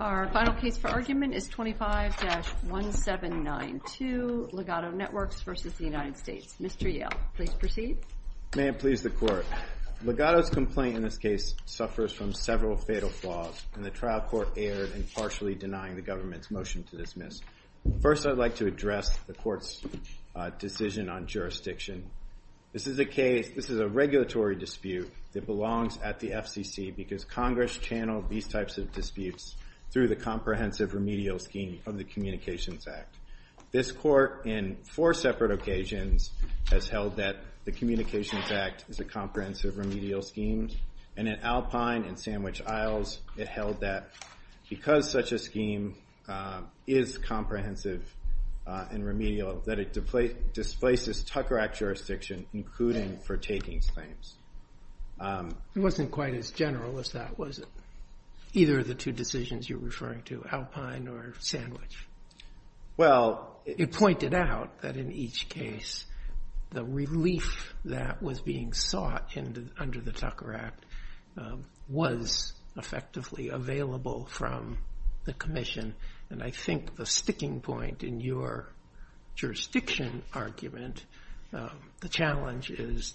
Our final case for argument is 25-1792 Ligado Networks v. United States. Mr. Yale, please proceed. May it please the Court. Ligado's complaint in this case suffers from several fatal flaws, and the trial court erred in partially denying the government's motion to dismiss. First, I'd like to address the Court's decision on jurisdiction. This is a regulatory dispute that belongs at the FCC because Congress channeled these types of disputes through the Comprehensive Remedial Scheme of the Communications Act. This Court, in four separate occasions, has held that the Communications Act is a Comprehensive Remedial Scheme, and in Alpine and Sandwich Isles, it held that because such a scheme is comprehensive and remedial, that it displaces Tucker Act jurisdiction, including for taking claims. It wasn't quite as general as that, was it, either of the two decisions you're referring to, Alpine or Sandwich? Well, it pointed out that in each case, the relief that was being sought under the Tucker Act was effectively available from the Commission. And I think the sticking point in your jurisdiction argument, the challenge is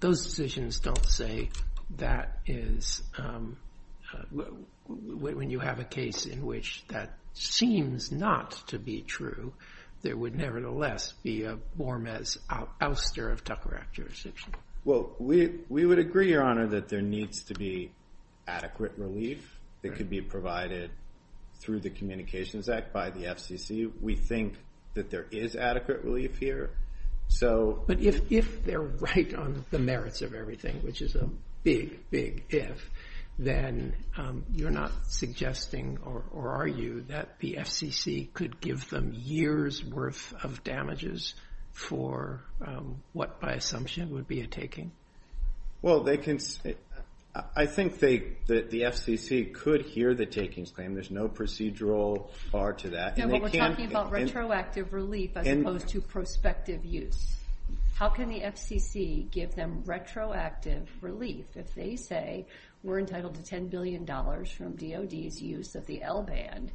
those decisions don't say that when you have a case in which that seems not to be true, there would nevertheless be a BORMES ouster of Tucker Act jurisdiction. Well, we would agree, Your Honor, that there needs to be adequate relief that can be provided through the Communications Act by the FCC. We think that there is adequate relief here. But if they're right on the merits of everything, which is a big, big if, then you're not suggesting, or are you, that the FCC could give them years' worth of damages for what, by assumption, would be a taking? Well, I think that the FCC could hear the taking claim. There's no procedural bar to that. No, but we're talking about retroactive relief as opposed to prospective use. How can the FCC give them retroactive relief if they say we're entitled to $10 billion from DOD's use of the L-band?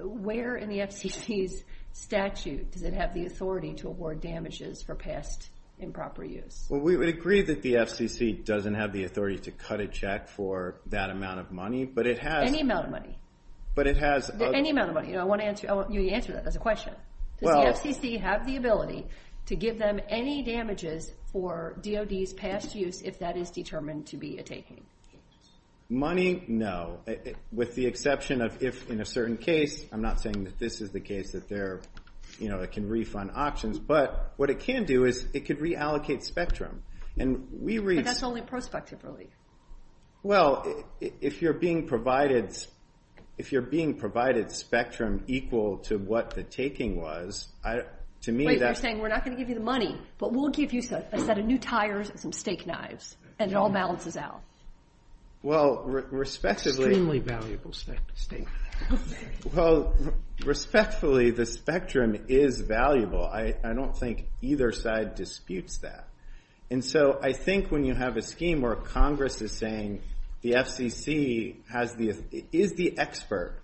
Where in the FCC's statute does it have the authority to award damages for past improper use? Well, we would agree that the FCC doesn't have the authority to cut a check for that amount of money, but it has... Any amount of money. I want you to answer that as a question. Does the FCC have the ability to give them any damages for DOD's past use if that is determined to be a taking? Money, no. With the exception of if in a certain case, I'm not saying that this is the case that they're, you know, that can refund options, but what it can do is it could reallocate spectrum. And we... But that's only prospective relief. Well, if you're being provided spectrum equal to what the taking was, to me that... Wait, you're saying we're not going to give you the money, but we'll give you a set of new tires and steak knives, and it all balances out. Well, respectfully... Extremely valuable steak. Well, respectfully, the spectrum is valuable. I don't think either side disputes that. And so I think when you have a scheme where Congress is saying the FCC is the expert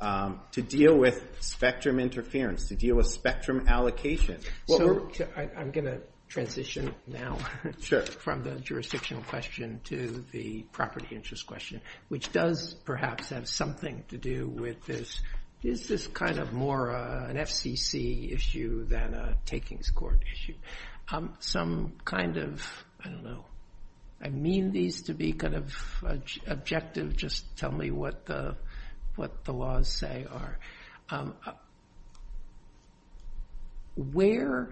to deal with spectrum interference, to deal with spectrum allocation... I'm going to transition now from the jurisdictional question to the property interest question, which does perhaps have something to do with this. Is this kind of more an FCC issue than a takings court issue? Some kind of, I don't know, I mean these to be kind of objective, just tell me what the laws say are. Where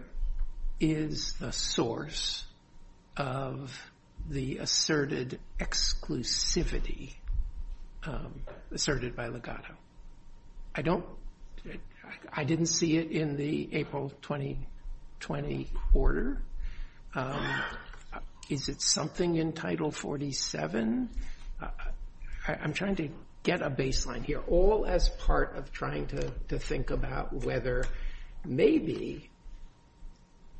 is the source of the asserted exclusivity asserted by Legato? I didn't see it in the April 2020 order. Is it something in Title 47? I'm trying to get a baseline here, all as part of trying to think about whether maybe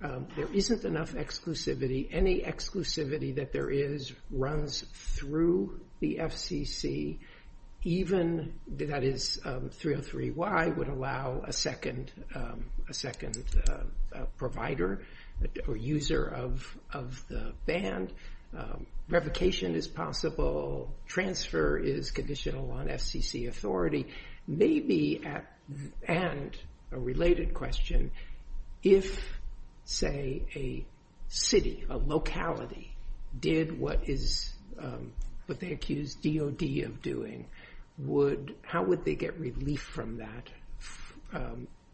there isn't enough exclusivity. Any exclusivity that there is runs through the FCC, even that is 303Y would allow a second provider or user of the band. Revocation is possible. Transfer is conditional on FCC authority. Maybe, and a related question, if, say, a city, a locality did what they accused DOD of doing, how would they get relief from that?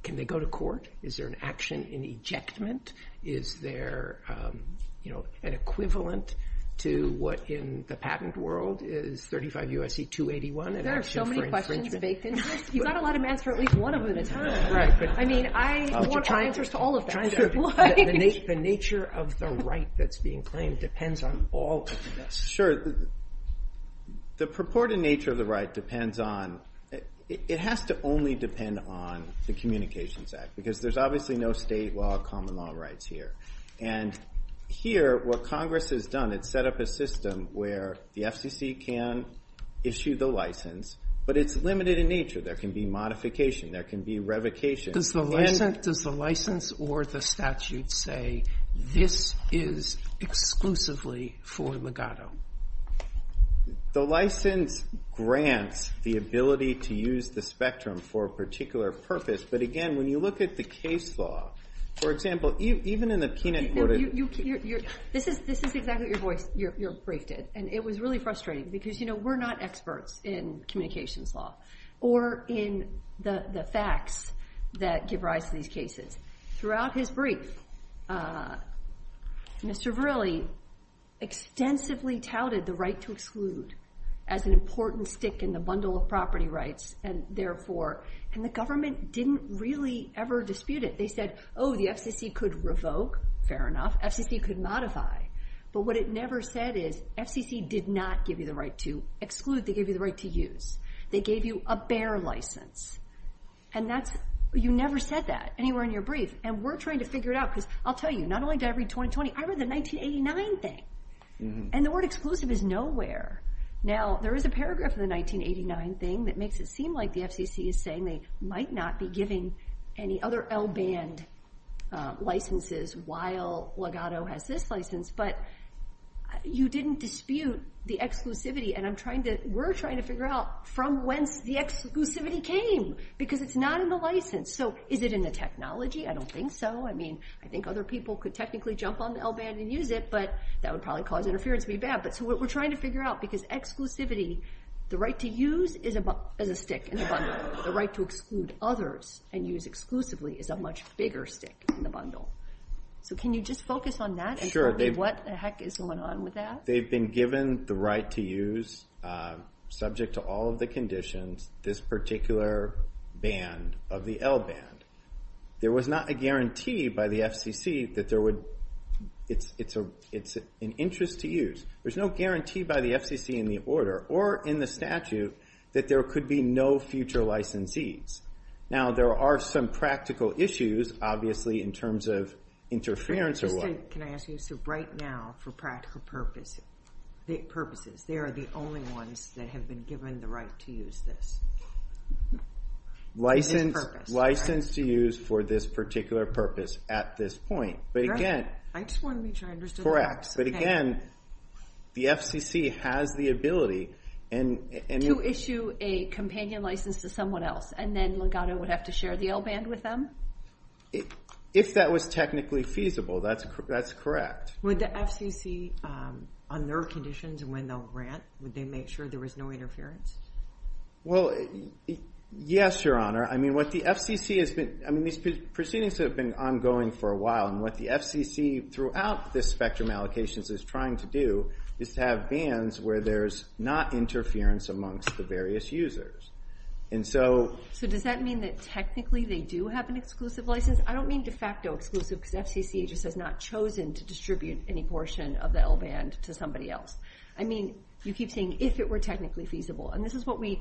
Can they go to court? Is there an action in ejectment? Is there an equivalent to what in the patent world is 35 U.S.C. 281? There are so many questions. You've got to let him answer at least one of them. I mean, I want your answers to all of them. The nature of the right that's being claimed depends on all of this. Sure. The purported nature of the right depends on, it has to only depend on the Communications Act, because there's obviously no state law or common law rights here. And here, what Congress has done is set up a system where the FCC can issue the license, but it's limited in nature. There can be modification. There can be revocation. Does the license or the statute say this is exclusively for legato? The license grants the ability to use the spectrum for a particular purpose. But, again, when you look at the case law, for example, even in a teenage court of... This is exactly what your brief did, and it was really frustrating because we're not experts in communications law. Or in the facts that give rise to these cases. Throughout his brief, Mr. Verrilli extensively touted the right to exclude as an important stick in the bundle of property rights. And, therefore, the government didn't really ever dispute it. They said, oh, the FCC could revoke. Fair enough. FCC could modify. But what it never said is FCC did not give you the right to exclude. They gave you the right to use. They gave you a bare license. And that's... You never said that anywhere in your brief. And we're trying to figure it out because I'll tell you, not only did I read 2020, I read the 1989 thing. And the word exclusive is nowhere. Now, there is a paragraph in the 1989 thing that makes it seem like the FCC is saying they might not be giving any other L-band licenses while legato has this license. But you didn't dispute the exclusivity. And I'm trying to... We're trying to figure out from when the exclusivity came because it's not in the license. So is it in the technology? I don't think so. I mean, I think other people could technically jump on the L-band and use it, but that would probably cause interference to be bad. But we're trying to figure out because exclusivity, the right to use is a stick in the bundle. The right to exclude others and use exclusively is a much bigger stick in the bundle. So can you just focus on that and tell me what the heck is going on with that? They've been given the right to use, subject to all of the conditions, this particular band of the L-band. There was not a guarantee by the FCC that there would... It's an interest to use. There's no guarantee by the FCC in the order or in the statute that there could be no future licensees. Now, there are some practical issues, obviously, in terms of interference or what. Can I ask you to write now for practical purposes? They are the only ones that have been given the right to use this. License to use for this particular purpose at this point. But again... I just want to make sure I understood that. Correct. But again, the FCC has the ability... To issue a companion license to someone else and then Legato would have to share the L-band with them? If that was technically feasible, that's correct. Would the FCC, on their conditions and when they'll grant, would they make sure there was no interference? Well, yes, Your Honor. I mean, what the FCC has been... I mean, these proceedings have been ongoing for a while. And what the FCC, throughout this spectrum allocations, is trying to do is have bands where there's not interference amongst the various users. And so... So does that mean that technically they do have an exclusive license? I don't mean de facto exclusive because the FCC has just not chosen to distribute any portion of the L-band to somebody else. I mean, you keep saying, if it were technically feasible. And this is what we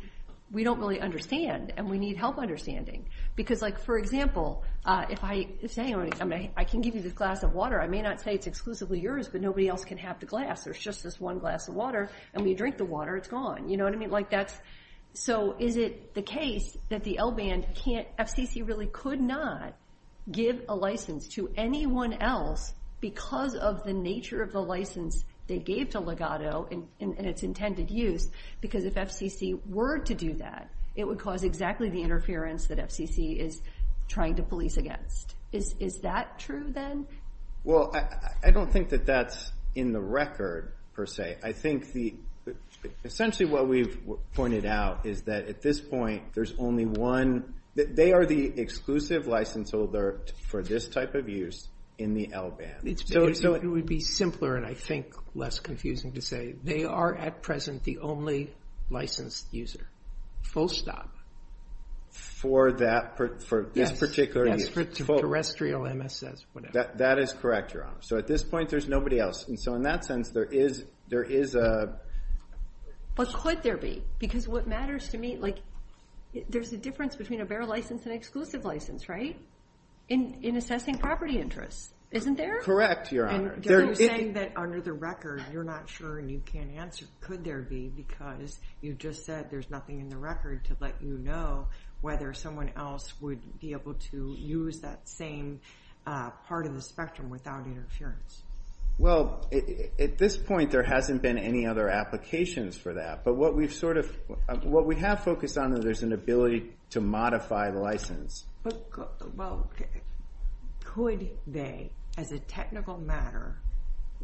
don't really understand and we need help understanding. Because, like, for example, if I say I can give you this glass of water, I may not say it's exclusively yours, but nobody else can have the glass. There's just this one glass of water. And we drink the water, it's gone. You know what I mean? Like, that's... So is it the case that the L-band can't... FCC really could not give a license to anyone else because of the nature of the license they gave to Legato and its intended use? Because if FCC were to do that, it would cause exactly the interference that FCC is trying to police against. Is that true, then? Well, I don't think that that's in the record, per se. Okay. I think the... Essentially, what we've pointed out is that at this point, there's only one... They are the exclusive license holder for this type of use in the L-band. So it would be simpler and, I think, less confusing to say they are, at present, the only licensed user. Full stop. For that... For this particular use. For terrestrial MSS, whatever. That is correct, Your Honor. So at this point, there's nobody else. And so, in that sense, there is a... Well, could there be? Because what matters to me... There's a difference between a bare license and an exclusive license, right? In assessing property interests. Isn't there? Correct, Your Honor. You're saying that under the record, you're not sure and you can't answer, could there be? Because you just said there's nothing in the record to let you know whether someone else would be able to use that same part of the spectrum without interference. Well, at this point, there hasn't been any other applications for that. But what we've sort of... What we have focused on is there's an ability to modify the license. Well, could they, as a technical matter,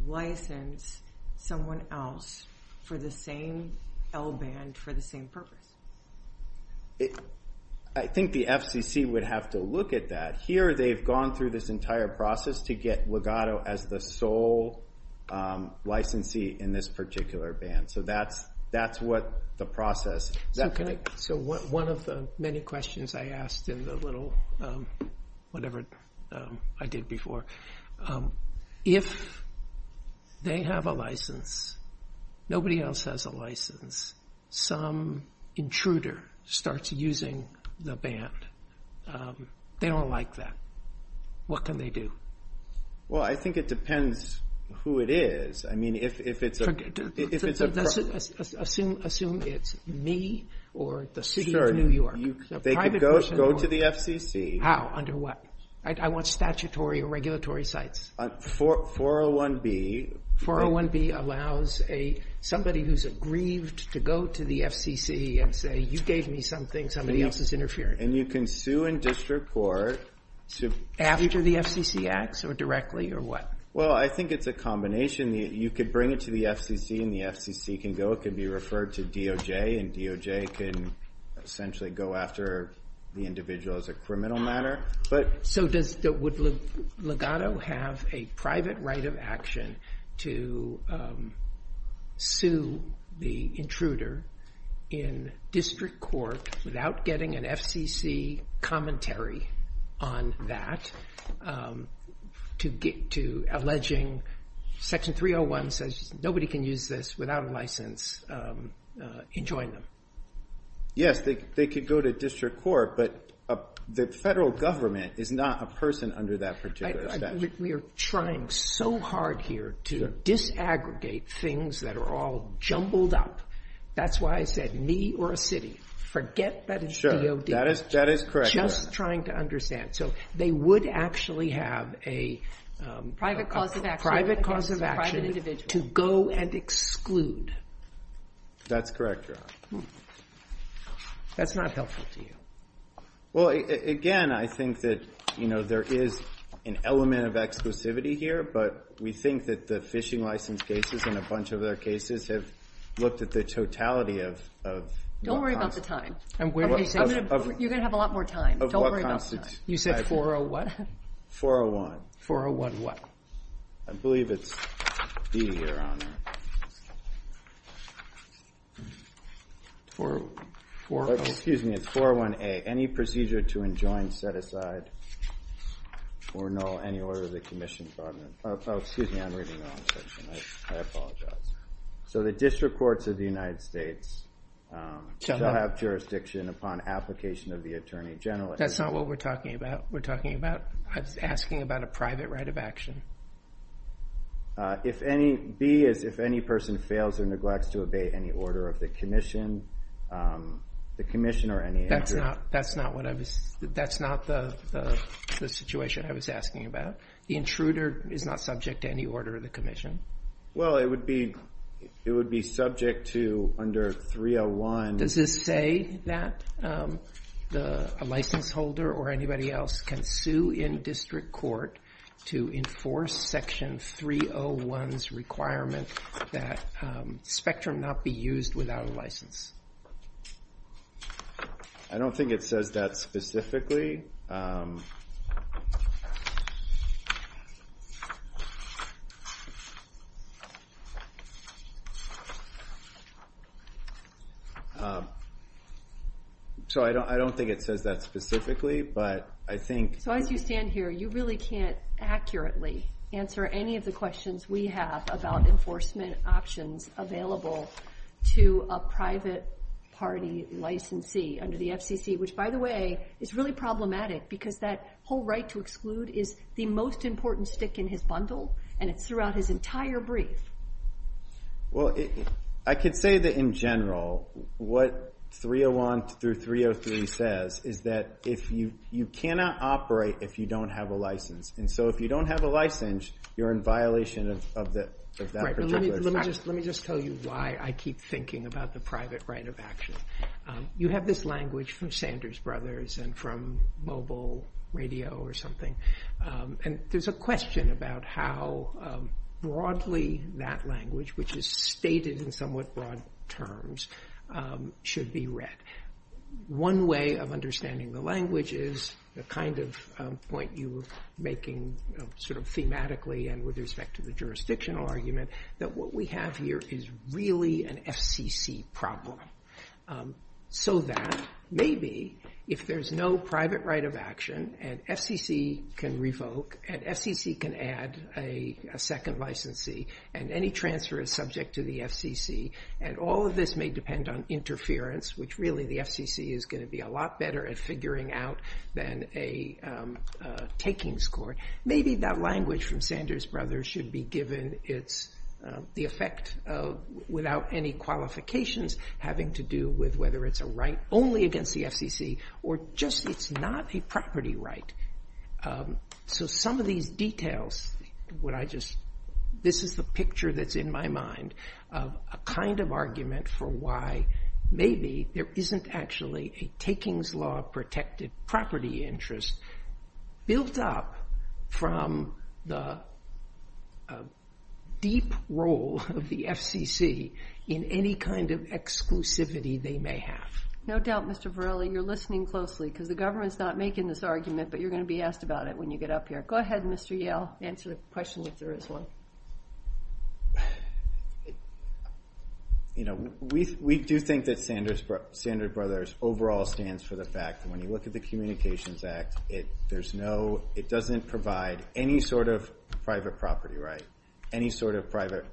license someone else for the same L-band for the same purpose? I think the FCC would have to look at that. Here, they've gone through this entire process to get legato as the sole licensee in this particular band. So that's what the process... Okay. So one of the many questions I asked in the little... Whatever I did before. If they have a license, nobody else has a license, some intruder starts using the band. They don't like that. What can they do? Well, I think it depends who it is. I mean, if it's a... Assume it's me or the city of New York. They could go to the FCC. How? Under what? I want statutory or regulatory sites. 401B. 401B allows somebody who's aggrieved to go to the FCC and say, you gave me something, somebody else is interfering. And you can sue and disreport. After the FCC acts or directly or what? Well, I think it's a combination. You could bring it to the FCC and the FCC can go. It could be referred to DOJ and DOJ can essentially go after the individual as a criminal matter. So would Legato have a private right of action to sue the intruder in district court without getting an FCC commentary on that to alleging Section 301 says nobody can use this without a license and join them? Yes, they could go to district court. But the federal government is not a person under that particular statute. We are trying so hard here to disaggregate things that are all jumbled up. That's why I said me or a city. Forget the DOJ. That is correct. Just trying to understand. So they would actually have a private cause of action to go and exclude. That's correct, Your Honor. That's not helpful to you. Well, again, I think that there is an element of exclusivity here, but we think that the phishing license cases and a bunch of other cases have looked at the totality of... Don't worry about the time. You're going to have a lot more time. You said 401? 401. 401 what? I believe it's B, Your Honor. Excuse me. It's 401A. Any procedure to enjoin, set aside, or null any order of the commission. Excuse me. I'm reading the wrong section. I apologize. So the district courts of the United States shall not have jurisdiction upon application of the attorney general. That's not what we're talking about. We're talking about asking about a private right of action. B is if any person fails or neglects to obey any order of the commission. The commission or any... That's not the situation I was asking about. The intruder is not subject to any order of the commission. Well, it would be subject to under 301... Does it say that a license holder or anybody else can sue in district court to enforce Section 301's requirements that Spectrum not be used without a license? I don't think it says that specifically. So I don't think it says that specifically, but I think... So as you stand here, you really can't accurately answer any of the questions we have about enforcement options available to a private party licensee under the FCC, which, by the way, is really problematic because that whole right to exclude is the most important stick in his bundle, and it's throughout his entire brief. Well, I could say that, in general, what 301 through 303 says is that you cannot operate if you don't have a license. And so if you don't have a license, you're in violation of that particular... Let me just tell you why I keep thinking about the private right of action. You have this language from Sanders Brothers and from mobile radio or something, and there's a question about how broadly that language, which is stated in somewhat broad terms, should be read. One way of understanding the language is the kind of point you were making sort of thematically and with respect to the jurisdictional argument, that what we have here is really an FCC problem, so that maybe if there's no private right of action, and FCC can revoke, and FCC can add a second licensee, and any transfer is subject to the FCC, and all of this may depend on interference, which really the FCC is going to be a lot better at figuring out than a taking score. Maybe that language from Sanders Brothers should be given the effect of, without any qualifications, having to do with whether it's a right only against the FCC or just it's not a property right. So some of these details, this is the picture that's in my mind, a kind of argument for why maybe there isn't actually a takings law protected property interest built up from the deep role of the FCC in any kind of exclusivity they may have. No doubt, Mr. Varela, you're listening closely, because the government's not making this argument, but you're going to be asked about it when you get up here. Go ahead, Mr. Yale, answer the question if there is one. We do think that Sanders Brothers overall stands for the fact that when you look at the Communications Act, it doesn't provide any sort of private property right, any sort of private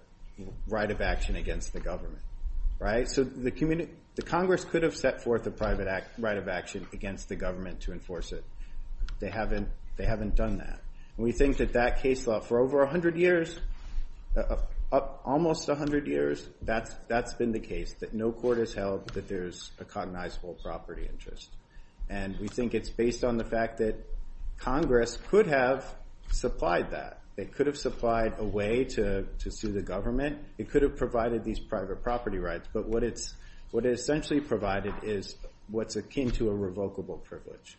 right of action against the government. So the Congress could have set forth a private right of action against the government to enforce it. They haven't done that. We think that that case law for over 100 years, almost 100 years, that's been the case, that no court has held that there's a cognizable property interest. And we think it's based on the fact that Congress could have supplied that. They could have supplied a way to sue the government. It could have provided these private property rights. But what it essentially provided is what's akin to a revocable privilege.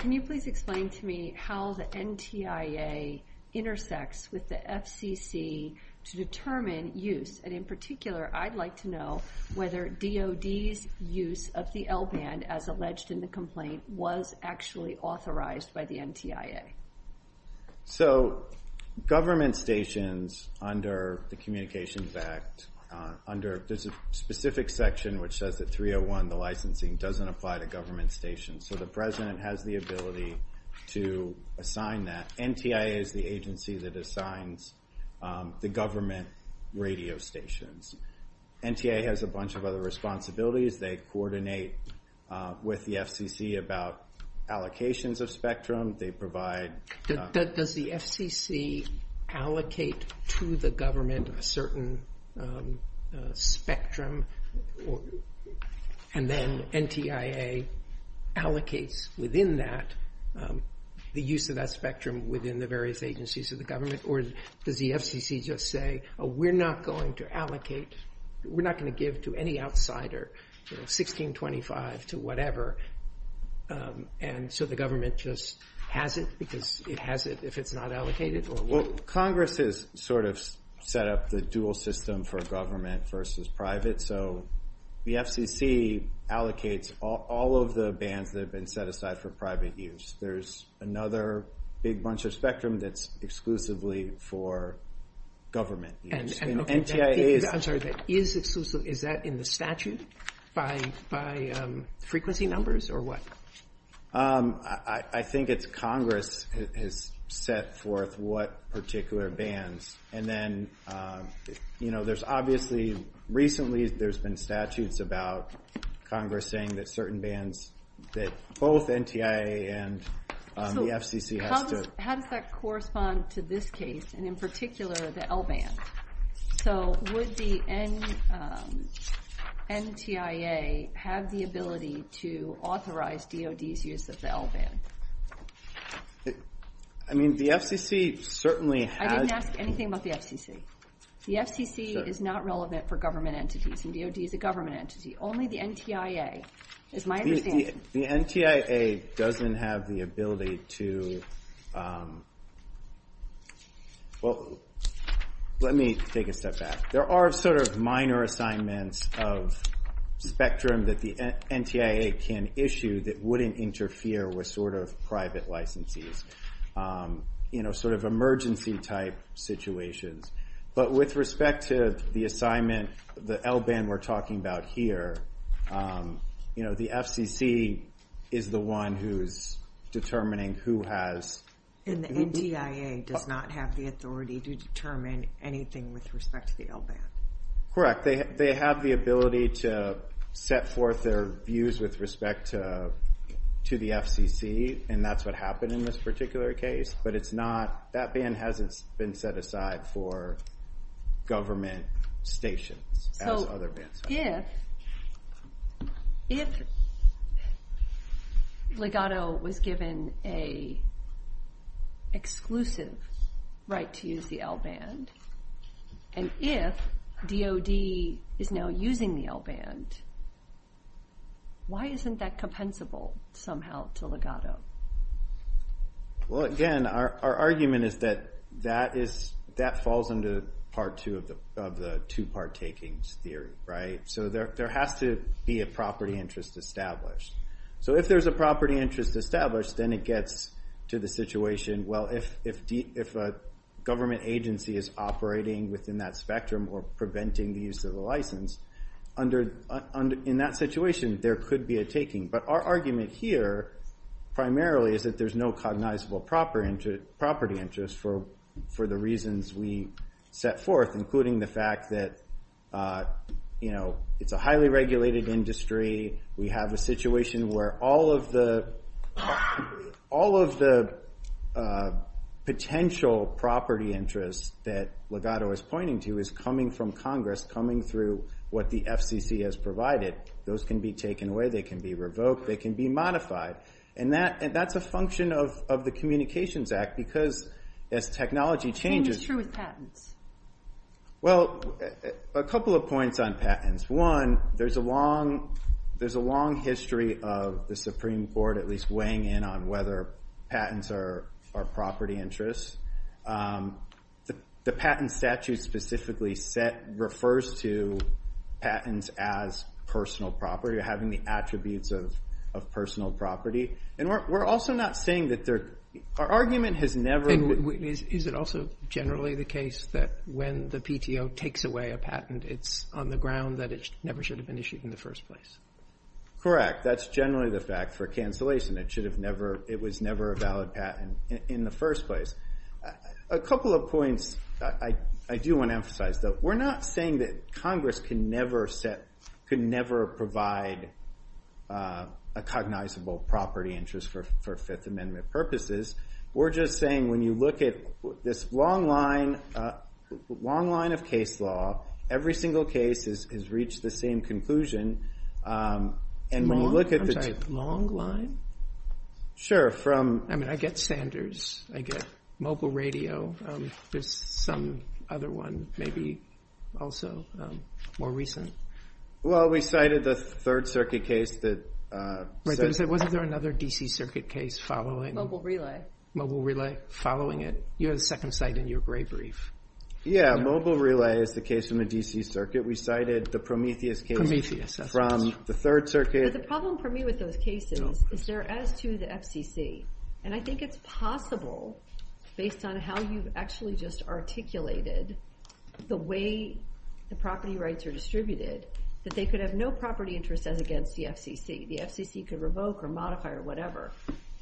Can you please explain to me how the NTIA intersects with the FCC to determine use? And in particular, I'd like to know whether DOD's use of the L band, as alleged in the complaint, was actually authorized by the NTIA. So government stations under the Communications Act, under this specific section, which says that 301, the licensing, doesn't apply to government stations. So the President has the ability to assign that. NTIA is the agency that assigns the government radio stations. NTIA has a bunch of other responsibilities. They coordinate with the FCC about allocations of spectrum. They provide... Does the FCC allocate to the government a certain spectrum? And then NTIA allocates within that the use of that spectrum within the various agencies of the government? Or does the FCC just say, we're not going to allocate, we're not going to give to any outsider, 1625 to whatever. And so the government just has it because it has it if it's not allocated? Well, Congress has sort of set up the dual system for government versus private. So the FCC allocates all of the bands that have been set aside for private use. There's another big bunch of spectrum that's exclusively for government use. I'm sorry, is that in the statute by frequency numbers or what? I think it's Congress has set forth what particular bands. And then, you know, there's obviously... Recently, there's been statutes about Congress saying that certain bands, that both NTIA and the FCC have to... So would the NTIA have the ability to authorize DOD's use of the L band? I mean, the FCC certainly has... I didn't ask anything about the FCC. The FCC is not relevant for government entities and DOD is a government entity. Only the NTIA, is my understanding. The NTIA doesn't have the ability to... Well, let me take a step back. There are sort of minor assignments of spectrum that the NTIA can issue that wouldn't interfere with sort of private licensees. You know, sort of emergency type situations. But with respect to the assignment, the L band we're talking about here, you know, the FCC is the one who is determining who has... And the NTIA does not have the authority to determine anything with respect to the L band. Correct. They have the ability to set forth their views with respect to the FCC and that's what happened in this particular case. But it's not... That band hasn't been set aside for government stations as other bands have. If... If... Legato was given an exclusive right to use the L band and if DOD is now using the L band, why isn't that compensable somehow to Legato? Well, again, our argument is that that falls into part two of the two-part takings theory, right? So there has to be a property interest established. So if there's a property interest established, then it gets to the situation, well, if a government agency is operating within that spectrum or preventing the use of the license, in that situation, there could be a taking. But our argument here, primarily, is that there's no cognizable property interest for the reasons we set forth, including the fact that, you know, it's a highly regulated industry, we have a situation where all of the potential property interests that Legato is pointing to is coming from Congress, coming through what the FCC has provided. Those can be taken away, they can be revoked, they can be modified. And that's a function of the Communications Act because as technology changes... And it's true with patents. Well, a couple of points on patents. One, there's a long history of the Supreme Court at least weighing in on whether patents are property interests. The patent statute specifically refers to patents as personal property or having the attributes of personal property. And we're also not saying that there... Our argument has never... Is it also generally the case that when the PTO takes away a patent, it's on the ground that it never should have been issued in the first place? Correct. That's generally the fact for cancellation. And it should have never... It was never a valid patent in the first place. A couple of points I do want to emphasize. We're not saying that Congress can never set... Can never provide a cognizable property interest for Fifth Amendment purposes. We're just saying when you look at this long line of case law, every single case has reached the same conclusion. I'm sorry, long line? Sure, from... I mean, I get standards. I get mobile radio. There's some other one maybe also more recent. Well, we cited the Third Circuit case that... Was there another D.C. Circuit case following? Mobile Relay following it. You had a second site in your gray brief. Yeah, Mobile Relay is the case in the D.C. Circuit. We cited the Prometheus case from the Third Circuit. But the problem for me with those cases is they're as to the FCC. And I think it's possible based on how you've actually just articulated the way the property rights are distributed that they could have no property interest as against the FCC. The FCC could revoke or modify or whatever.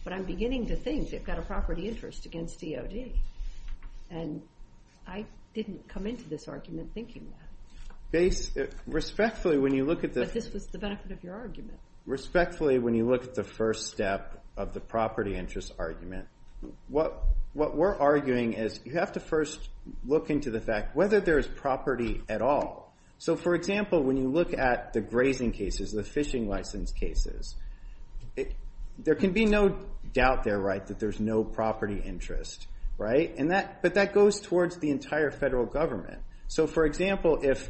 But I'm beginning to think they've got a property interest against DOD. And I didn't come into this argument thinking that. Respectfully, when you look at the... But this is the benefit of your argument. Respectfully, when you look at the first step of the property interest argument, what we're arguing is you have to first look into the fact whether there's property at all. So, for example, when you look at the grazing cases, the fishing license cases, there can be no doubt there, right, that there's no property interest, right? But that goes towards the entire federal government. So, for example, if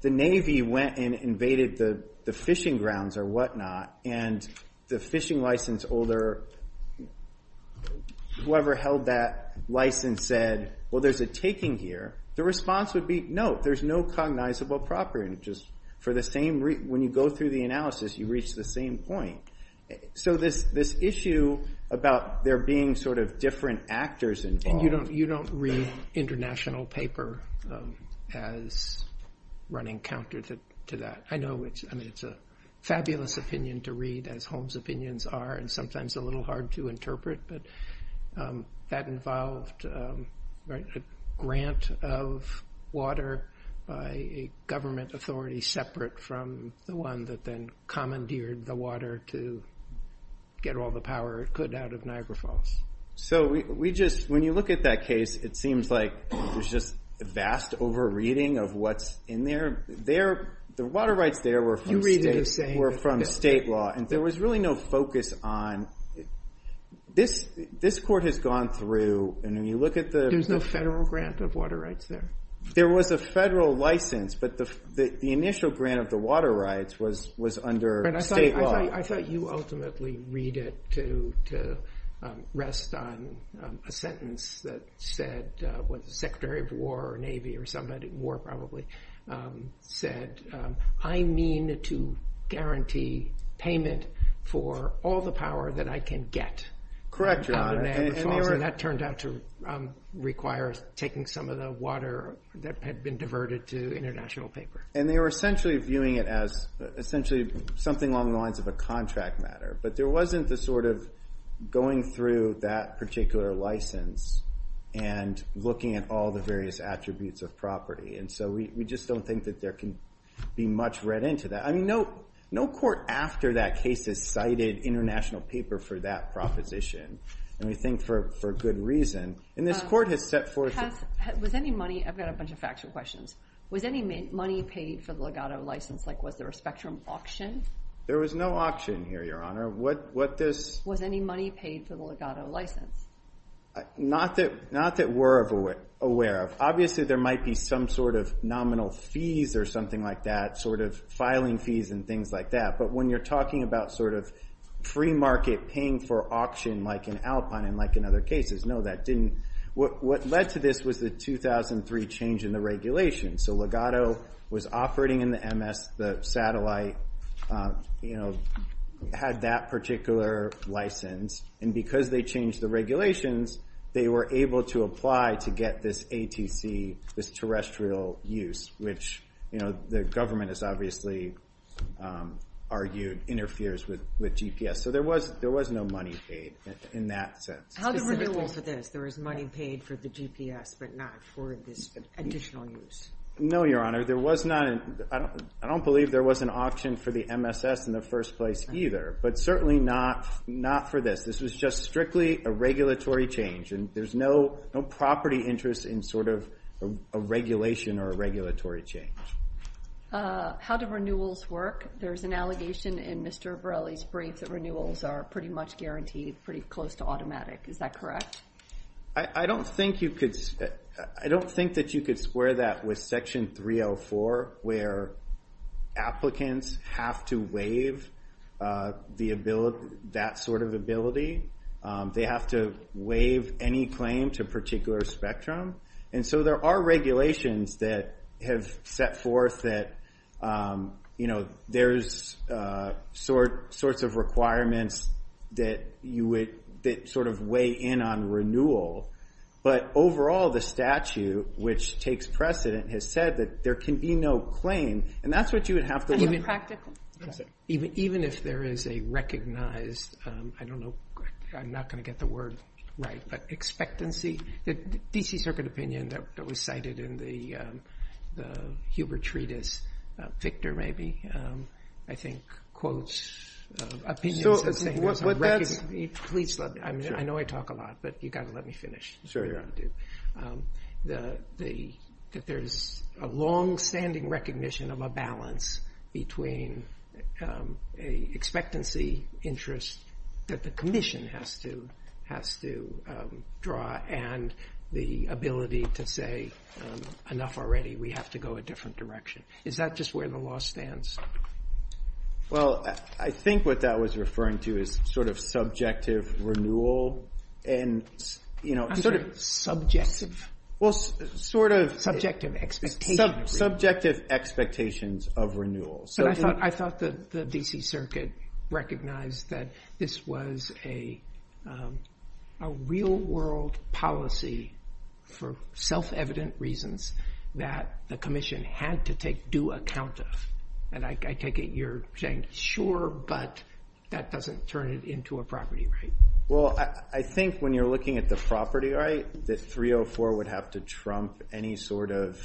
the Navy went and invaded the fishing grounds or whatnot and the fishing license holder, whoever held that license, said, well, there's a taking here, the response would be, no, there's no cognizable property interest. For the same reason, when you go through the analysis, you reach the same point. So this issue about there being sort of different actors involved... You don't read international paper as running counter to that. I know it's a fabulous opinion to read, as Holmes' opinions are, and sometimes a little hard to interpret, but that involved a grant of water by a government authority separate from the one that then commandeered the water to get all the power it could out of Niagara Falls. So when you look at that case, it seems like there's just a vast over-reading of what's in there. The water rights there were from state law, and there was really no focus on... This court has gone through, and when you look at the... There's no federal grant of water rights there. There was a federal license, but the initial grant of the water rights was under state law. I thought you ultimately read it to rest on a sentence that said, what the Secretary of War or Navy or somebody, War probably, said, I mean to guarantee payment for all the power that I can get. Correct. That turned out to require taking some of the water that had been diverted to international paper. And they were essentially viewing it as essentially something along the lines of a contract matter. But there wasn't the sort of going through that particular license and looking at all the various attributes of property. And so we just don't think that there can be much read into that. I mean, no court after that case has cited international paper for that proposition. And we think for good reason. And this court had set forth... With any money... I've got a bunch of factual questions. With any money paid for the legato license, like was there a spectrum auction? There was no auction here, Your Honor. What this... Was any money paid for the legato license? Not that we're aware of. Obviously, there might be some sort of nominal fees or something like that, sort of filing fees and things like that. But when you're talking about sort of pre-market paying for auction like in Alpine and like in other cases, no, that didn't... What led to this was the 2003 change in the regulations. So legato was operating in the MS. The satellite, you know, had that particular license. And because they changed the regulations, they were able to apply to get this ATC, this terrestrial use, which, you know, the government has obviously argued interferes with GPS. So there was no money paid in that sense. How do we know that there was money paid for the GPS but not for this additional use? No, Your Honor. There was not... I don't believe there was an auction for the MSS in the first place either, but certainly not for this. This was just strictly a regulatory change, and there's no property interest in sort of a regulation or a regulatory change. How do renewals work? There's an allegation in Mr. Borelli's brief that renewals are pretty much guaranteed, pretty close to automatic. Is that correct? I don't think that you could square that with Section 304 where applicants have to waive that sort of ability. They have to waive any claim to a particular spectrum. And so there are regulations that have set forth that, you know, there's sorts of requirements that sort of weigh in on renewal. But overall, the statute, which takes precedent, has said that there can be no claim, and that's what you would have to... Even if there is a recognized, I don't know, I'm not going to get the word right, but expectancy. The D.C. Circuit opinion that was cited in the Huber Treatise, Victor maybe, I think quotes... So what that is... Please, I know I talk a lot, but you've got to let me finish. That there's a long-standing recognition of a balance between a expectancy interest that the commission has to draw and the ability to say, enough already, we have to go a different direction. Is that just where the law stands? Well, I think what that was referring to is sort of subjective renewal and... I'm sort of subjective. Well, sort of... Subjective expectations. Subjective expectations of renewal. I thought the D.C. Circuit recognized that this was a real-world policy for self-evident reasons that the commission had to take due account of. And I take it you're saying, sure, but that doesn't turn it into a property right. Well, I think when you're looking at the property right, the 304 would have to trump any sort of...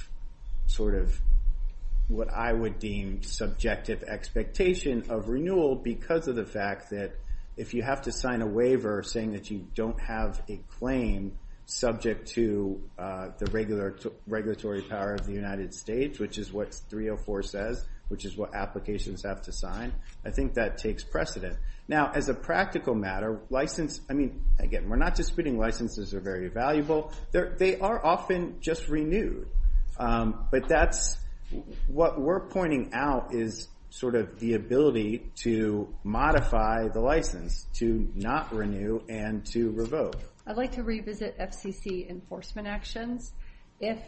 what I would deem subjective expectation of renewal because of the fact that if you have to sign a waiver saying that you don't have a claim subject to the regulatory power of the United States, which is what 304 says, which is what applications have to sign, I think that takes precedent. Now, as a practical matter, license... I mean, again, we're not disputing licenses are very valuable. They are often just renewed. But that's... What we're pointing out is sort of the ability to modify the license to not renew and to revoke. I'd like to revisit FCC enforcement action. If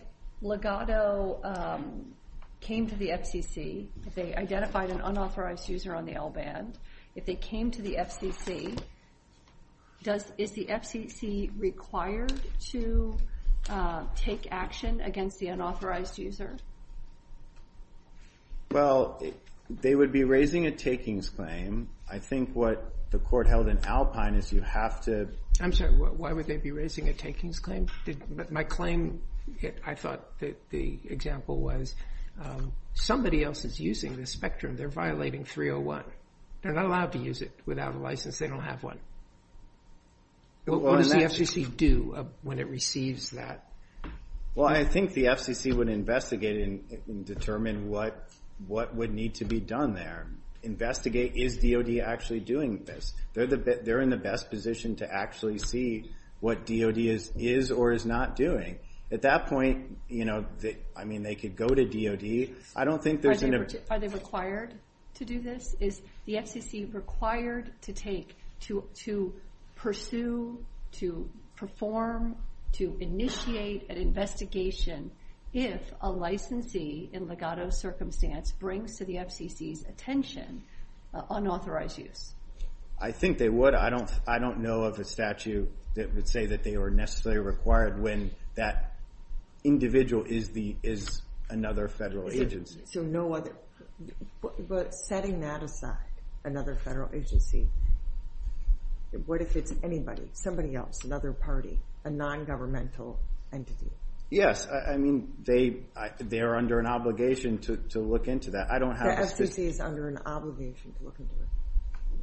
Legado came to the FCC, if they identified an unauthorized user on the LBAN, if they came to the FCC, is the FCC required to take action against the unauthorized user? Well, they would be raising a takings claim. I think what the court held in Alpine is you have to... I'm sorry, why would they be raising a takings claim? My claim, I thought the example was somebody else is using the spectrum. They're violating 301. They're not allowed to use it without a license. They don't have one. What does the FCC do when it receives that? Well, I think the FCC would investigate and determine what would need to be done there. Investigate, is DOD actually doing this? They're in the best position to actually see what DOD is or is not doing. At that point, I mean, they could go to DOD. I don't think there's... Are they required to do this? Is the FCC required to pursue, to perform, to initiate an investigation if a licensee in legato circumstance brings to the FCC's attention unauthorized use? I think they would. I don't know of a statute that would say that they were necessarily required when that individual is another federal agency. But setting that aside, another federal agency, what if it's anybody, somebody else, another party, a nongovernmental entity? Yes. I mean, they are under an obligation to look into that. The FCC is under an obligation to look into it.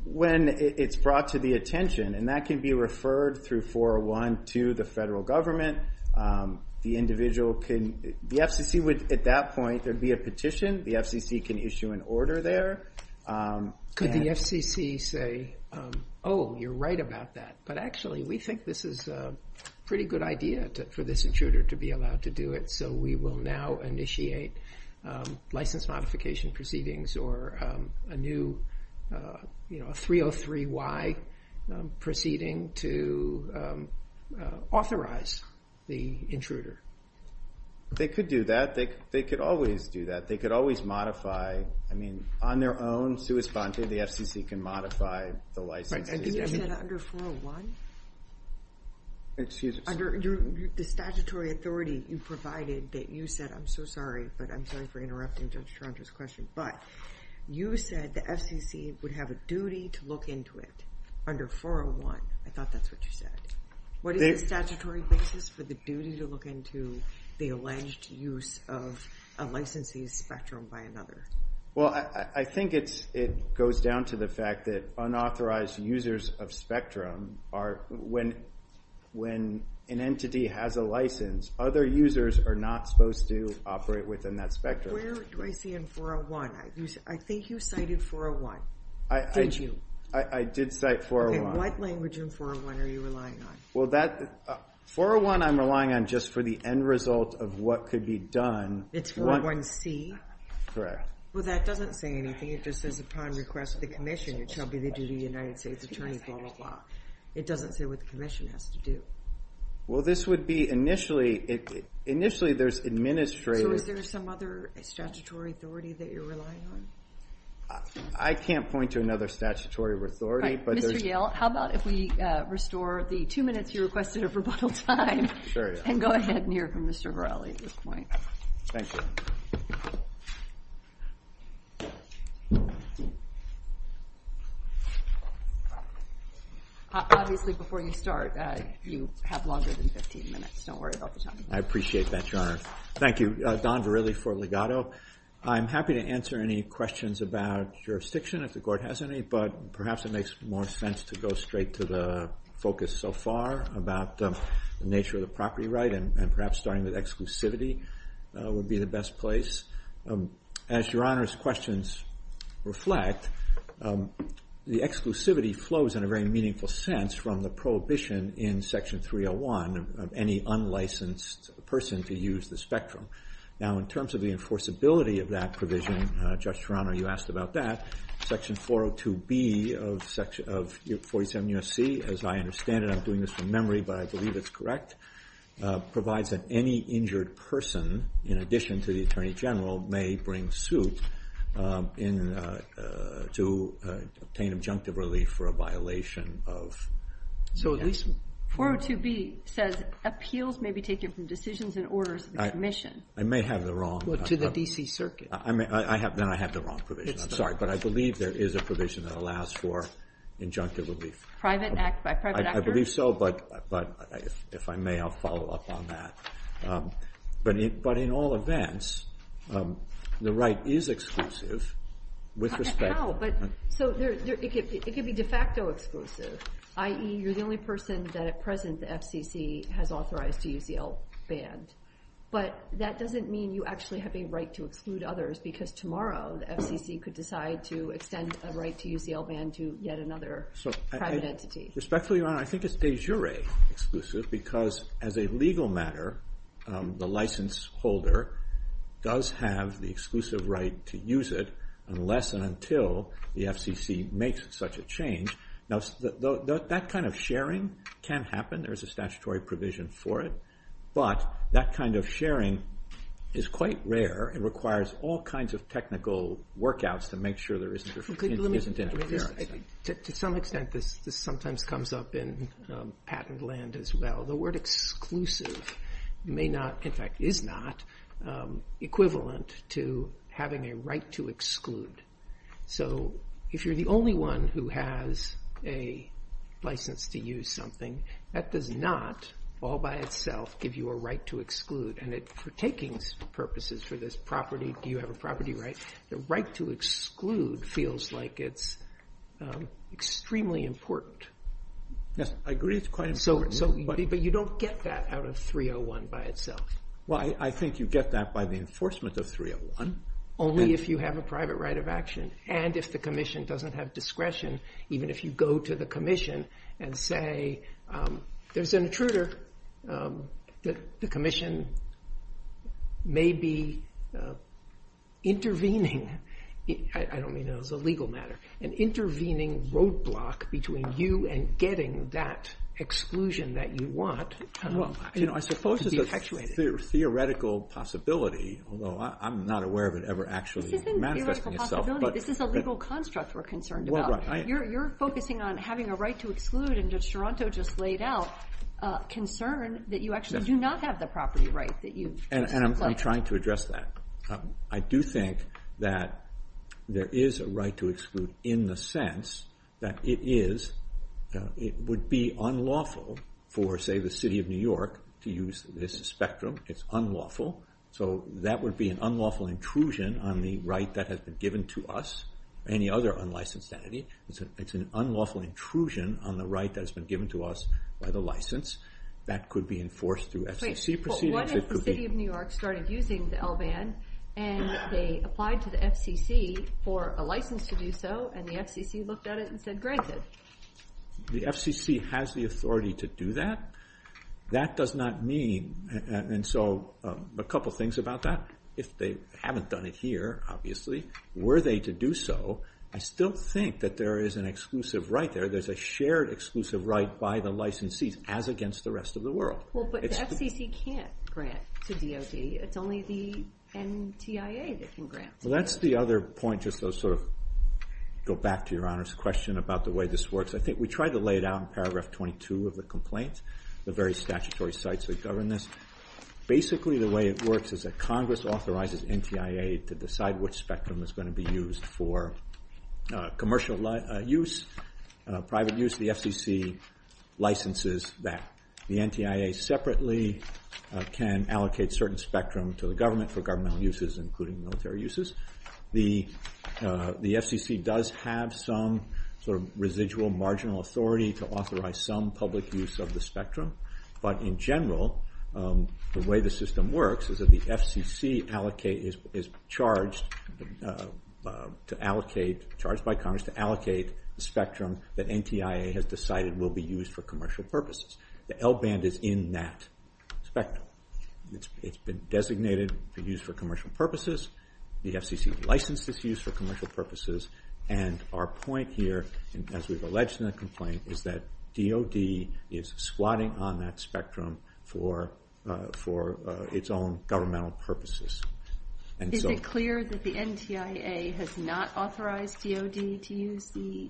When it's brought to the attention, and that can be referred through 401 to the federal government, the individual can... The FCC would, at that point, there'd be a petition. The FCC can issue an order there. Could the FCC say, oh, you're right about that, but actually we think this is a pretty good idea for this intruder to be allowed to do it, so we will now initiate license modification proceedings or a new 303Y proceeding to authorize the intruder? They could do that. They could always do that. They could always modify. I mean, on their own, the FCC can modify the license. Under 401? Excuse me. Under the statutory authority you provided that you said, I'm so sorry, but I'm sorry for interrupting Judge Charles's question, but you said the FCC would have a duty to look into it under 401. I thought that's what you said. What is the statutory basis for the duty to look into the alleged use of a licensing spectrum by another? Well, I think it goes down to the fact that unauthorized users of spectrum are... When an entity has a license, other users are not supposed to operate within that spectrum. Where do I see in 401? I think you cited 401, didn't you? I did cite 401. What language in 401 are you relying on? 401 I'm relying on just for the end result of what could be done. It's 401C? Correct. Well, that doesn't say anything. It just says upon request of the Commission, it shall be the duty of the United States Attorney for all law. It doesn't say what the Commission has to do. Well, this would be initially, initially there's administrative... So is there some other statutory authority that you're relying on? I can't point to another statutory authority, but there's... Mr. Yale, how about if we restore the two minutes you requested of rebuttal time? Sure. And go ahead and hear from Mr. Varelli at this point. Thank you. Obviously, before you start, if you have longer than 15 minutes, just don't worry about the time. I appreciate that, Your Honor. Thank you. Don Varelli for Legato. I'm happy to answer any questions about jurisdiction if the Court has any, but perhaps it makes more sense to go straight to the focus so far about the nature of the property right and perhaps starting with exclusivity would be the best place. As Your Honor's questions reflect, the exclusivity flows in a very meaningful sense from the prohibition in Section 301 of any unlicensed person to use the spectrum. Now, in terms of the enforceability of that provision, Judge Toronto, you asked about that. Section 402B of 47 U.S.C., as I understand it, I'm doing this from memory, but I believe it's correct, provides that any injured person, in addition to the Attorney General, may bring suit to obtain adjunctive relief for a violation of... 402B says appeals may be taken from decisions and orders of the Commission. I may have the wrong... To the D.C. Circuit. Then I have the wrong provision. I'm sorry, but I believe there is a provision that allows for adjunctive relief. Private acts by private actors. I believe so, but if I may, I'll follow up on that. But in all events, the right is exclusive with respect... No, but it could be de facto exclusive, i.e. you're the only person that at present the FCC has authorized to use the L-Ban. But that doesn't mean you actually have a right to exclude others because tomorrow the FCC could decide to extend a right to use the L-Ban to yet another private entity. Respectfully, Your Honor, I think it's de jure exclusive because as a legal matter, the license holder does have the exclusive right to use it unless and until the FCC makes such a change. Now, that kind of sharing can happen. There's a statutory provision for it. But that kind of sharing is quite rare. It requires all kinds of technical workouts to make sure there isn't interference. To some extent, this sometimes comes up in patent land as well. The word exclusive may not, in fact, is not equivalent to having a right to exclude. So if you're the only one who has a license to use something, that does not all by itself give you a right to exclude. And for takings purposes for this property, do you have a property right, the right to exclude feels like it's extremely important. Yes. I agree. But you don't get that out of 301 by itself. Well, I think you get that by the enforcement of 301. Only if you have a private right of action. And if the commission doesn't have discretion, even if you go to the commission and say there's an intruder, the commission may be intervening. I don't mean that as a legal matter. An intervening roadblock between you and getting that exclusion that you want. I suppose it's a theoretical possibility, although I'm not aware of it ever actually manifesting itself. This isn't a theoretical possibility. This is a legal construct we're concerned about. You're focusing on having a right to exclude, and as Toronto just laid out, a concern that you actually do not have the property rights that you have. And I'm trying to address that. I do think that there is a right to exclude in the sense that it would be unlawful for, say, the City of New York to use this spectrum. It's unlawful. So that would be an unlawful intrusion on the right that has been given to us or any other unlicensed entity. It's an unlawful intrusion on the right that has been given to us by the license. That could be enforced through SEC proceedings. What if the City of New York started using the L-Ban and they applied to the FCC for a license to do so and the FCC looked at it and said, Granted, the FCC has the authority to do that. That does not mean, and so a couple of things about that. If they haven't done it here, obviously, were they to do so, I still think that there is an exclusive right there. There's a shared exclusive right by the licensees as against the rest of the world. Well, but the FCC can't grant to DOJ. It's only the NTIA that can grant. Well, that's the other point just to sort of go back to Your Honor's question about the way this works. I think we tried to lay it out in paragraph 22 of the complaint, the very statutory sites that govern this. Basically, the way it works is that Congress authorizes NTIA to decide which spectrum is going to be used for commercial use, private use, the FCC licenses that. The NTIA separately can allocate certain spectrum to the government for governmental uses including military uses. The FCC does have some sort of residual marginal authority to authorize some public use of the spectrum, but in general, the way the system works is that the FCC allocate, is charged to allocate, charged by Congress to allocate the spectrum that NTIA has decided will be used for commercial purposes. The L band is in that spectrum. It's been designated to use for commercial purposes. The FCC license is used for commercial purposes and our point here as we've alleged in the complaint is that DOD is squatting on that spectrum for its own governmental purposes. Is it clear that the NTIA has not authorized DOD to use the,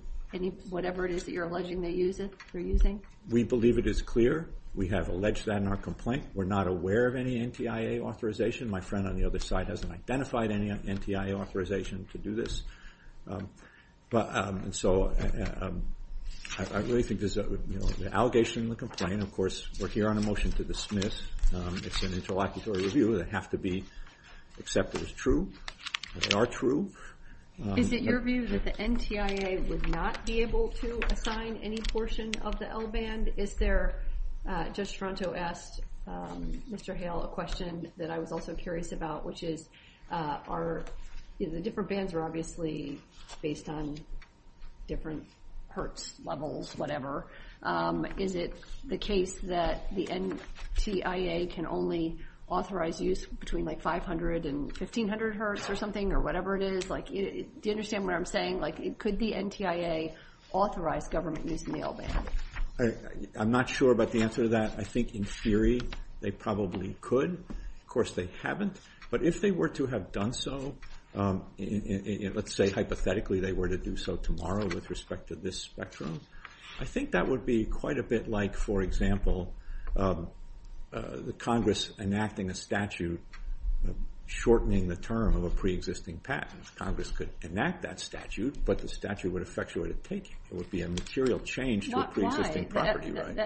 whatever it is that you're alleging they use it for using? We believe it is clear. We have alleged that in our complaint. We're not aware of any NTIA authorization. My friend on the other side hasn't identified any NTIA authorization to do this. I really think there's an allegation in the complaint. Of course, we're here on a motion to dismiss. It's an interlocutory review. They have to be accepted as true. They are true. Is it your view that the NTIA would not be able to assign any portion of the L band? Is there, Judge Toronto asked Mr. Hale a question that I was also curious about, which is are the different bands are obviously based on different Hertz levels, whatever. Is it the case that the NTIA can only authorize use between 500 and 1500 Hertz or something, or whatever it is? Do you understand what I'm saying? It could be NTIA authorized government use in the L band. I'm not sure about the answer to that. I think in theory they probably could. Of course, they haven't. But if they were to have done so, let's say hypothetically they were to do so tomorrow with respect to this spectrum, I think that would be quite a bit like, for example, the Congress enacting a statute shortening the term of a pre-existing patent. Congress could enact that statute, but the statute would effectuate a taking. It would be a material change to a pre-existing property right.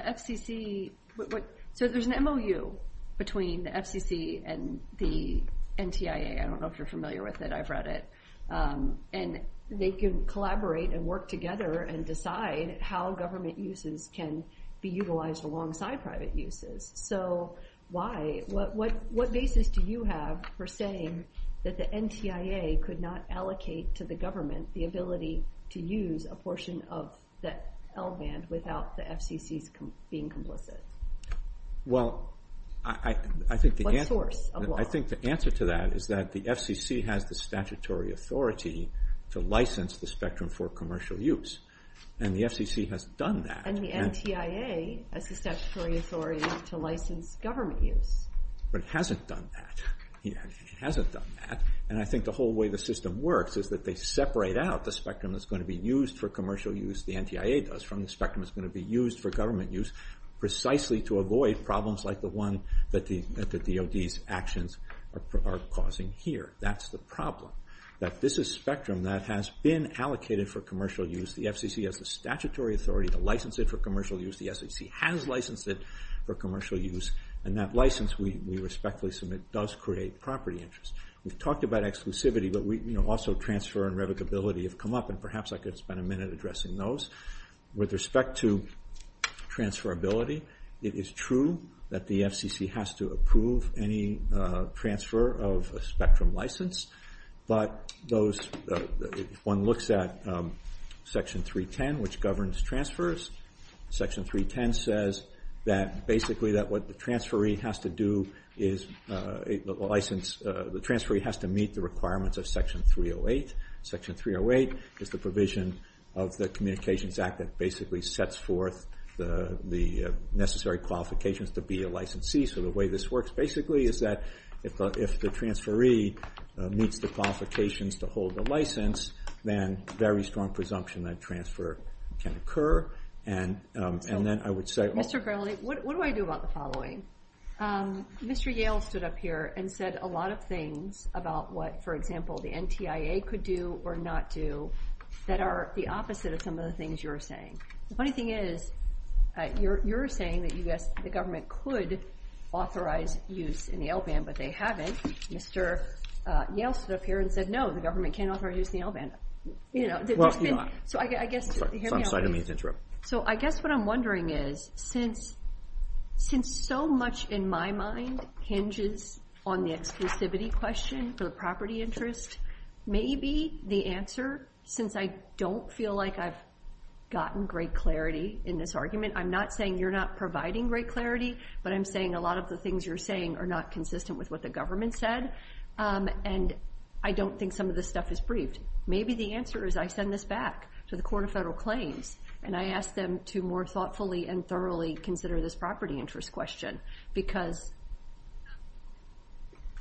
So there's an MOU between the FCC and the NTIA. I don't know if you're familiar with it. I've read it. And they can collaborate and work together and decide how government uses can be utilized alongside private uses. So why? What basis do you have for saying that the NTIA could not allocate to the government the ability to use a portion of that L band without the FCC being complicit? Well, I think the answer to that is that the FCC has the statutory authority. to license the spectrum for commercial use. And the FCC has done that. And the NTIA has a statutory authority to license government use. But it hasn't done that. It hasn't done that. And I think the whole way the system works is that they separate out the spectrum that's going to be used for commercial use, the NTIA does, from the spectrum that's going to be used for government use precisely to avoid problems like the one that the DOD's actions are causing here. That's the problem. That this is spectrum that has been allocated for commercial use. The FCC has the statutory authority to license it for commercial use. The FCC has licensed it for commercial use. And that license, we respectfully submit, does create property interest. We've talked about exclusivity, but also transfer and revocability have come up. And perhaps I could spend a minute addressing those. With respect to transferability, it is true that the FCC has to approve any transfer of a spectrum license. But those, one looks at Section 310, which governs transfers. Section 310 says that basically that what the transferee has to do is license, the transferee has to meet the requirements of Section 308. Section 308 is the provision of the Communications Act that basically sets forth the necessary qualifications to be a licensee. So the way this works basically is that if the transferee meets the qualifications to hold the license, then very strong presumption that transfer can occur. And then I would say- Mr. Grimley, what do I do about the following? Mr. Yale stood up here and said a lot of things about what, for example, the NTIA could do or not do that are the opposite of some of the things you're saying. The funny thing is, you're saying that the government could authorize use in the LBAN, but they haven't. Mr. Yale stood up here and said, no, the government can't authorize use in the LBAN. So I guess what I'm wondering is, since so much in my mind hinges on the exclusivity question for property interests, maybe the answer, since I don't feel like I've gotten great clarity in this argument, I'm not saying you're not providing great clarity, but I'm saying a lot of the things you're saying are not consistent with what the government said, and I don't think some of this stuff is briefed. Maybe the answer is I send this back to the Court of Federal Claims, and I ask them to more thoughtfully and thoroughly consider this property interest question, because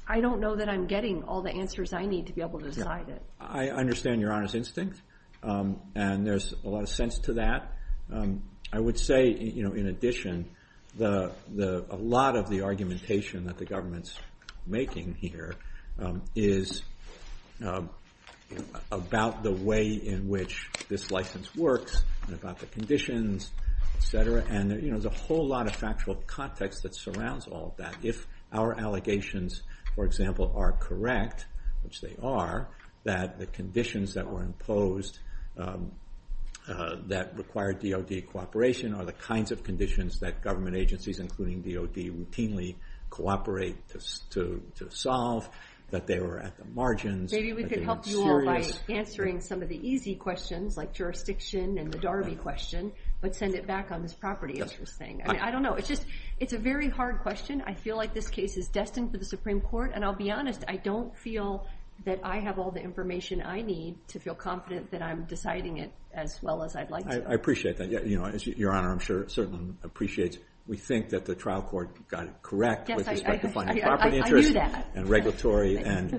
I don't know that I'm getting all the answers I need to be able to drive it. I understand your honest instinct, and there's a lot of sense to that. I would say, in addition, a lot of the argumentation that the government's making here is about the way in which this license works and about the conditions, et cetera, and there's a whole lot of factual context that surrounds all of that. If our allegations, for example, are correct, which they are, that the conditions that were imposed that required DOD cooperation are the kinds of conditions that government agencies, including DOD, routinely cooperate to solve, that they were at the margins. Maybe we could help you all by answering some of the easy questions, like jurisdiction and the Darby question, but send it back on this property interest thing. I don't know. It's a very hard question. I feel like this case is destined for the Supreme Court, and I'll be honest. I don't feel that I have all the information I need to feel confident that I'm deciding it as well as I'd like to. I appreciate that. Your Honor, I'm sure, certainly appreciates. We think that the trial court got it correct with respect to property interest and regulatory and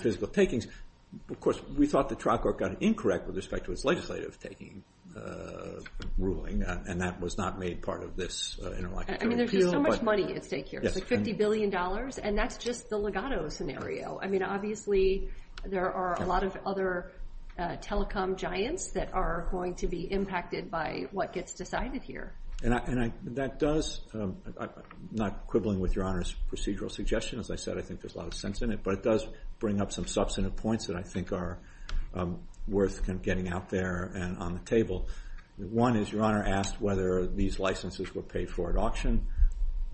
physical takings. Of course, we thought the trial court got it incorrect with respect to its legislative ruling, and that was not made part of this interlocutory appeal. I mean, there's so much money at stake here, $50 billion, and that's just the legato scenario. I mean, obviously, there are a lot of other telecom giants that are going to be impacted by what gets decided here. And that does, not quibbling with Your Honor's procedural suggestion, as I said, I think there's a lot of sense in it, but it does bring up some substantive points that I think are worth getting out there and on the table. One is Your Honor asked whether these licenses were paid for at auction.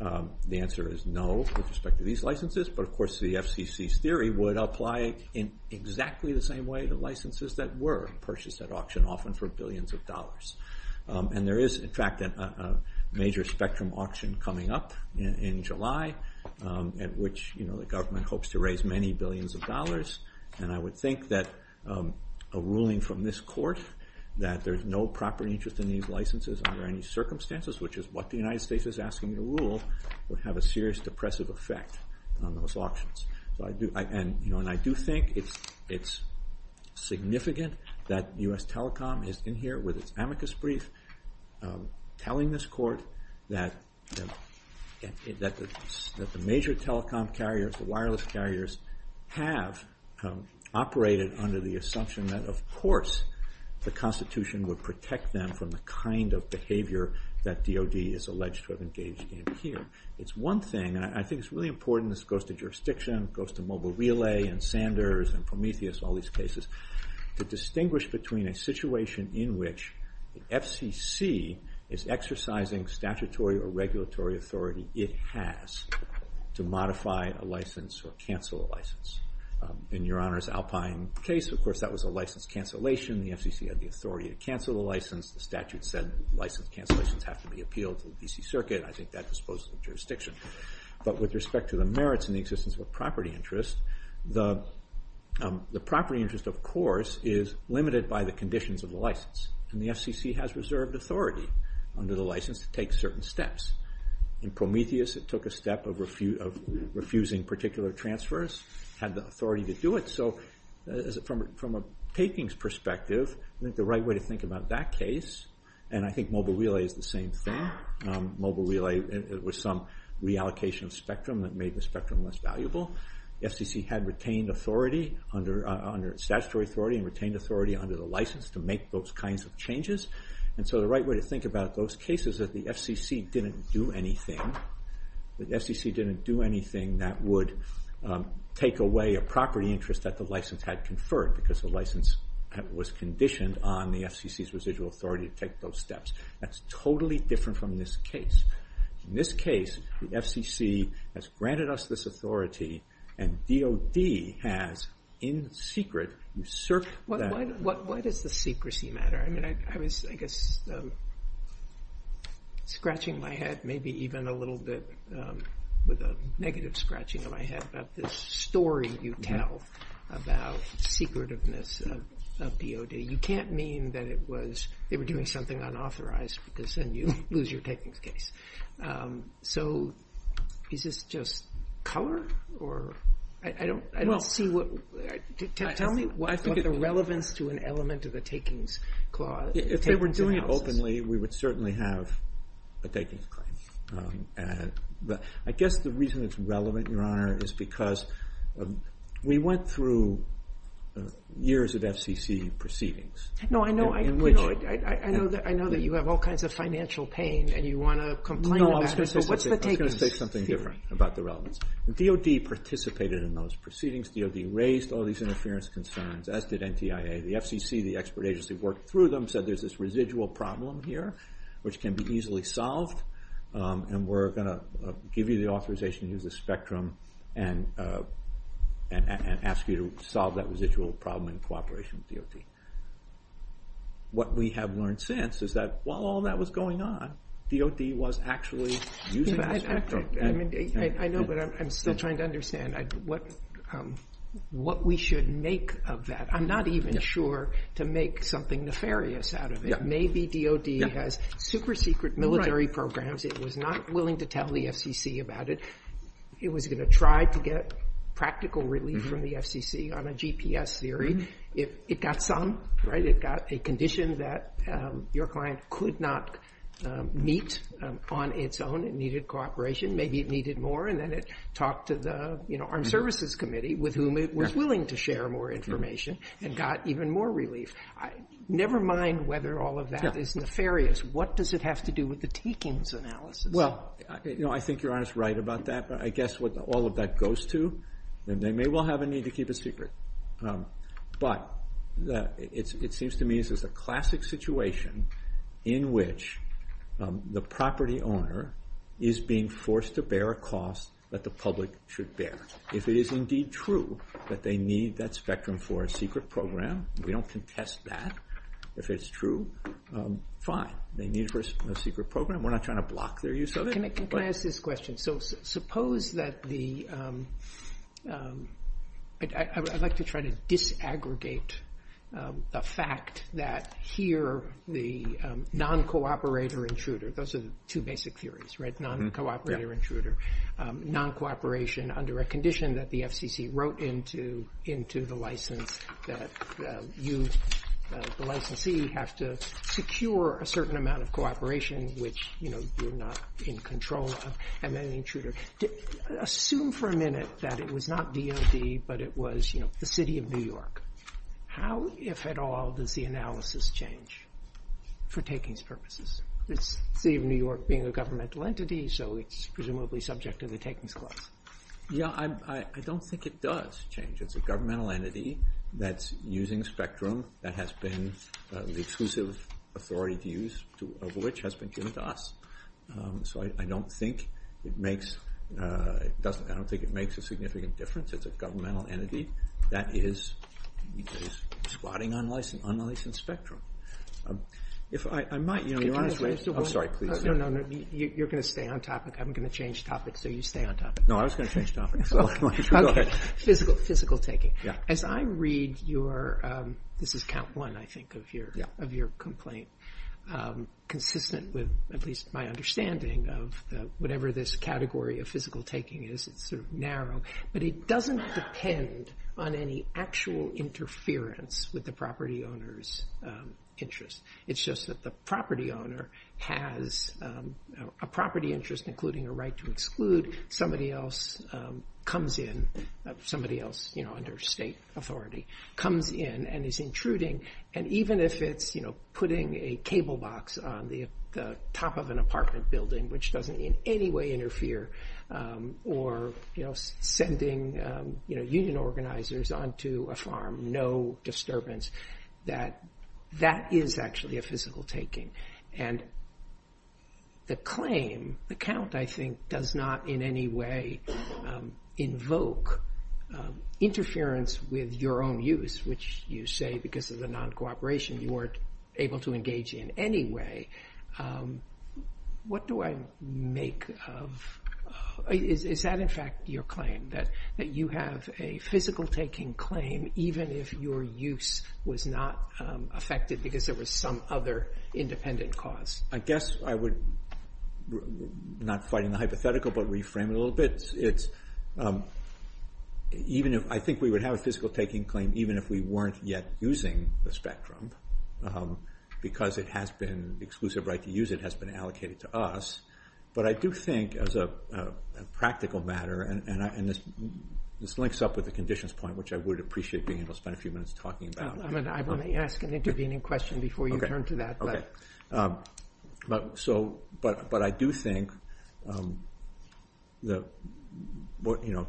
The answer is no with respect to these licenses. But, of course, the FCC's theory would apply in exactly the same way to licenses that were purchased at auction, often for billions of dollars. And there is, in fact, a major spectrum auction coming up in July at which the government hopes to raise many billions of dollars. And I would think that a ruling from this court that there's no property interest in these licenses under any circumstances, which is what the United States is asking to rule, would have a serious depressive effect on those auctions. And I do think it's significant that U.S. Telecom is in here with its amicus brief telling this court that the major telecom carriers, the wireless carriers have operated under the assumption that, of course, the Constitution would protect them from the kind of behavior that DOD is alleged to have engaged in here. It's one thing, and I think it's really important, this goes to jurisdiction, goes to Mobile Relay and Sanders and Prometheus and all these cases, to distinguish between a situation in which the FCC is exercising statutory or regulatory authority it has to modify a license or cancel a license. In Your Honor's Alpine case, of course, that was a license cancellation. The FCC had the authority to cancel the license. The statute said license cancellations have to be appealed to the D.C. Circuit, and I think that disposes of jurisdiction. But with respect to the merits and the existence of a property interest, the property interest, of course, is limited by the conditions of the license. And the FCC has reserved authority under the license to take certain steps. In Prometheus, it took a step of refusing particular transfers, had the authority to do it. So from a takings perspective, I think the right way to think about that case, and I think Mobile Relay is the same thing. Mobile Relay was some reallocation spectrum that made the spectrum less valuable. The FCC had retained authority under statutory authority and retained authority under the license to make those kinds of changes. And so the right way to think about those cases is the FCC didn't do anything. The FCC didn't do anything that would take away a property interest that the license had conferred because the license was conditioned on the FCC's residual authority to take those steps. That's totally different from this case. In this case, the FCC has granted us this authority, and DOD has, in secret, usurped that authority. Why does the secrecy matter? I mean, I was, I guess, scratching my head maybe even a little bit with a negative scratching of my head about this story you tell about secretiveness of DOD. You can't mean that it was – they were doing something unauthorized because then you lose your takings case. So is this just power? I don't see what – tell me what's the relevance to an element of the takings clause. If they were doing it openly, we would certainly have a takings claim. I guess the reason it's relevant, Your Honor, is because we went through years of FCC proceedings. No, I know that you have all kinds of financial pain and you want to complain about it. No, I was going to say something different about the relevance. DOD participated in those proceedings. DOD raised all these interference concerns, as did NTIA. The FCC, the expert agency, worked through them, said there's this residual problem here which can be easily solved, and we're going to give you the authorization to use the spectrum and ask you to solve that residual problem in cooperation with DOD. What we have learned since is that while all that was going on, DOD was actually using the spectrum. I know, but I'm still trying to understand what we should make of that. I'm not even sure to make something nefarious out of it. Maybe DOD has super secret military programs. It was not willing to tell the FCC about it. It was going to try to get practical relief from the FCC on a GPS theory. It got some. It got a condition that your client could not meet on its own. It needed cooperation. Maybe it needed more, and then it talked to the Armed Services Committee, with whom it was willing to share more information, and got even more relief. Never mind whether all of that is nefarious. What does it have to do with the takings analysis? Well, I think you're honest right about that, but I guess with all of that goes to, then they may well have a need to keep it secret. But it seems to me this is a classic situation in which the property owner is being forced to bear a cost that the public should bear. If it is indeed true that they need that spectrum for a secret program, we don't contest that. If it's true, fine. They need it for a secret program. We're not trying to block their use of it. Can I ask this question? So suppose that the – I'd like to try to disaggregate the fact that here the non-cooperator intruder – those are the two basic theories, right? Non-cooperator intruder. Non-cooperation under a condition that the FCC wrote into the license that you, the licensee, have to secure a certain amount of cooperation, which you're not in control of, and then intruder. Assume for a minute that it was not DOD, but it was the city of New York. How, if at all, does the analysis change for takings purposes? The city of New York being a governmental entity, so it's presumably subject to the takings class. Yeah, I don't think it does change. It's a governmental entity that's using spectrum that has been the exclusive authority to use of which has been given to us. So I don't think it makes – I don't think it makes a significant difference. It's a governmental entity that is spotting unlicensed spectrum. If I'm not, you know – I'm sorry, please. No, no, you're going to stay on topic. I'm going to change topic, so you stay on topic. No, I was going to change topic. Go ahead. Physical taking. Yeah. As I read your – this is count one, I think, of your complaint, consistent with at least my understanding of whatever this category of physical taking is, it's sort of narrow, but it doesn't depend on any actual interference with the property owner's interest. It's just that the property owner has a property interest, including a right to exclude. Somebody else comes in – somebody else under state authority comes in and is intruding, and even if it's putting a cable box on the top of an apartment building, which doesn't in any way interfere, or sending union organizers onto a farm, no disturbance, that that is actually a physical taking. And the claim, the count, I think, does not in any way invoke interference with your own use, which you say because of the non-cooperation you weren't able to engage in anyway. What do I make of – is that, in fact, your claim, that you have a physical taking claim, even if your use was not affected because there was some other independent cause? I guess I would – not quite in the hypothetical, but reframe it a little bit. I think we would have a physical taking claim even if we weren't yet using the spectrum because it has been – the exclusive right to use it has been allocated to us. But I do think, as a practical matter – and this links up with the conditions point, which I would appreciate being able to spend a few minutes talking about. I'm going to ask an intervening question before you turn to that. But I do think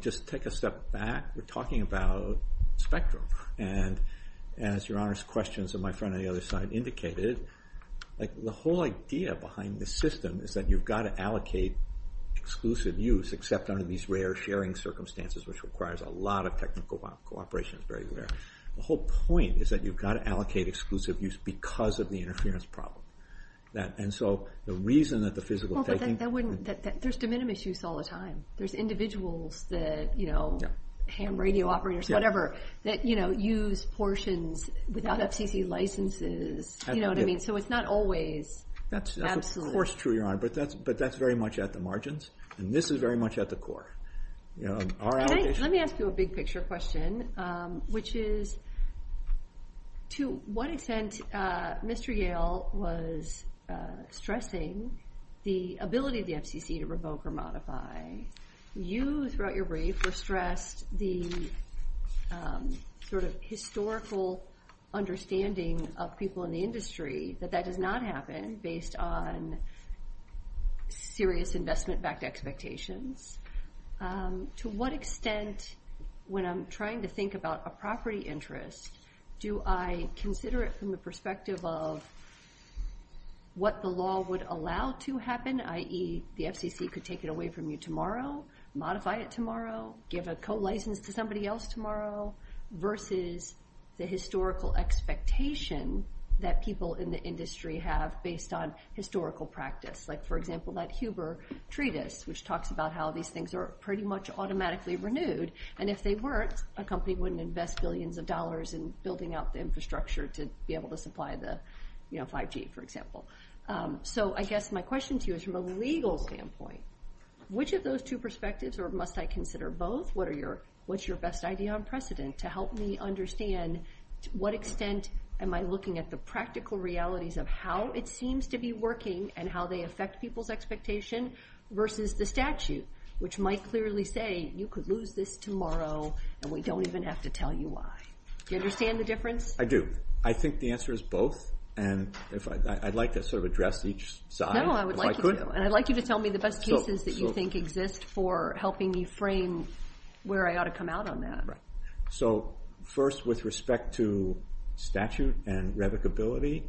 – just take a step back. We're talking about spectrum. And as your Honor's questions and my friend on the other side indicated, the whole idea behind the system is that you've got to allocate exclusive use except under these rare sharing circumstances, which requires a lot of technical cooperation. The whole point is that you've got to allocate exclusive use because of the interference problem. And so the reason that the physical taking – Well, but that wouldn't – there's de minimis use all the time. There's individuals that – ham radio operators, whatever – that use portions without FCC licenses. You know what I mean? So it's not always – That's of course true, Your Honor. But that's very much at the margins. And this is very much at the core. Let me ask you a big-picture question, which is to what extent Mr. Yale was stressing the ability of the FCC to revoke or modify. You, throughout your brief, have stressed the sort of historical understanding of people in the industry that that did not happen based on serious investment-backed expectations. To what extent, when I'm trying to think about a property interest, do I consider it from the perspective of what the law would allow to happen, i.e., the FCC could take it away from you tomorrow, modify it tomorrow, give a co-license to somebody else tomorrow, versus the historical expectation that people in the industry have based on historical practice? Like, for example, that Huber Treatise, which talks about how these things are pretty much automatically renewed. And if they weren't, a company wouldn't invest billions of dollars in building out the infrastructure to be able to supply the 5G, for example. So I guess my question to you is from a legal standpoint. Which of those two perspectives, or must I consider both? What's your best idea on precedent to help me understand to what extent am I looking at the practical realities of how it seems to be working and how they affect people's expectations versus the statute, which might clearly say you could lose this tomorrow and we don't even have to tell you why. Do you understand the difference? I do. I think the answer is both. And I'd like to sort of address each side. No, I would like you to. Tell me the best cases that you think exist for helping me frame where I ought to come out on that. So first, with respect to statute and revocability,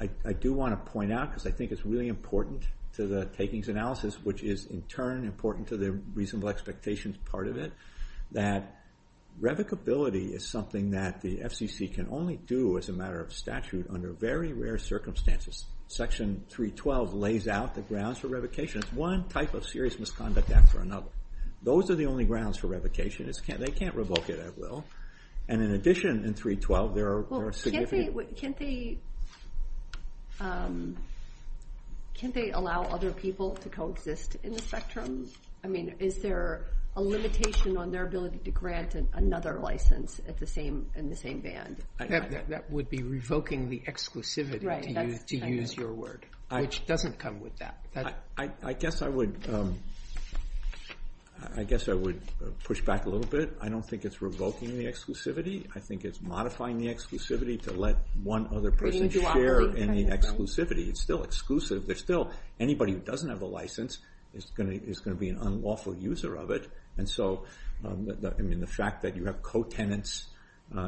I do want to point out, because I think it's really important to the takings analysis, which is in turn important to the reasonable expectations part of it, that revocability is something that the FCC can only do as a matter of statute under very rare circumstances. Section 312 lays out the grounds for revocation as one type of serious misconduct act or another. Those are the only grounds for revocation. They can't revoke it at will. And in addition, in 312, there are significant... Can't they allow other people to coexist in the spectrum? I mean, is there a limitation on their ability to grant another license in the same band? That would be revoking the exclusivity, to use your word, which doesn't come with that. I guess I would push back a little bit. I don't think it's revoking the exclusivity. I think it's modifying the exclusivity to let one other person share any exclusivity. It's still exclusive. There's still anybody who doesn't have a license is going to be an unlawful user of it. And so, I mean, the fact that you have co-tenants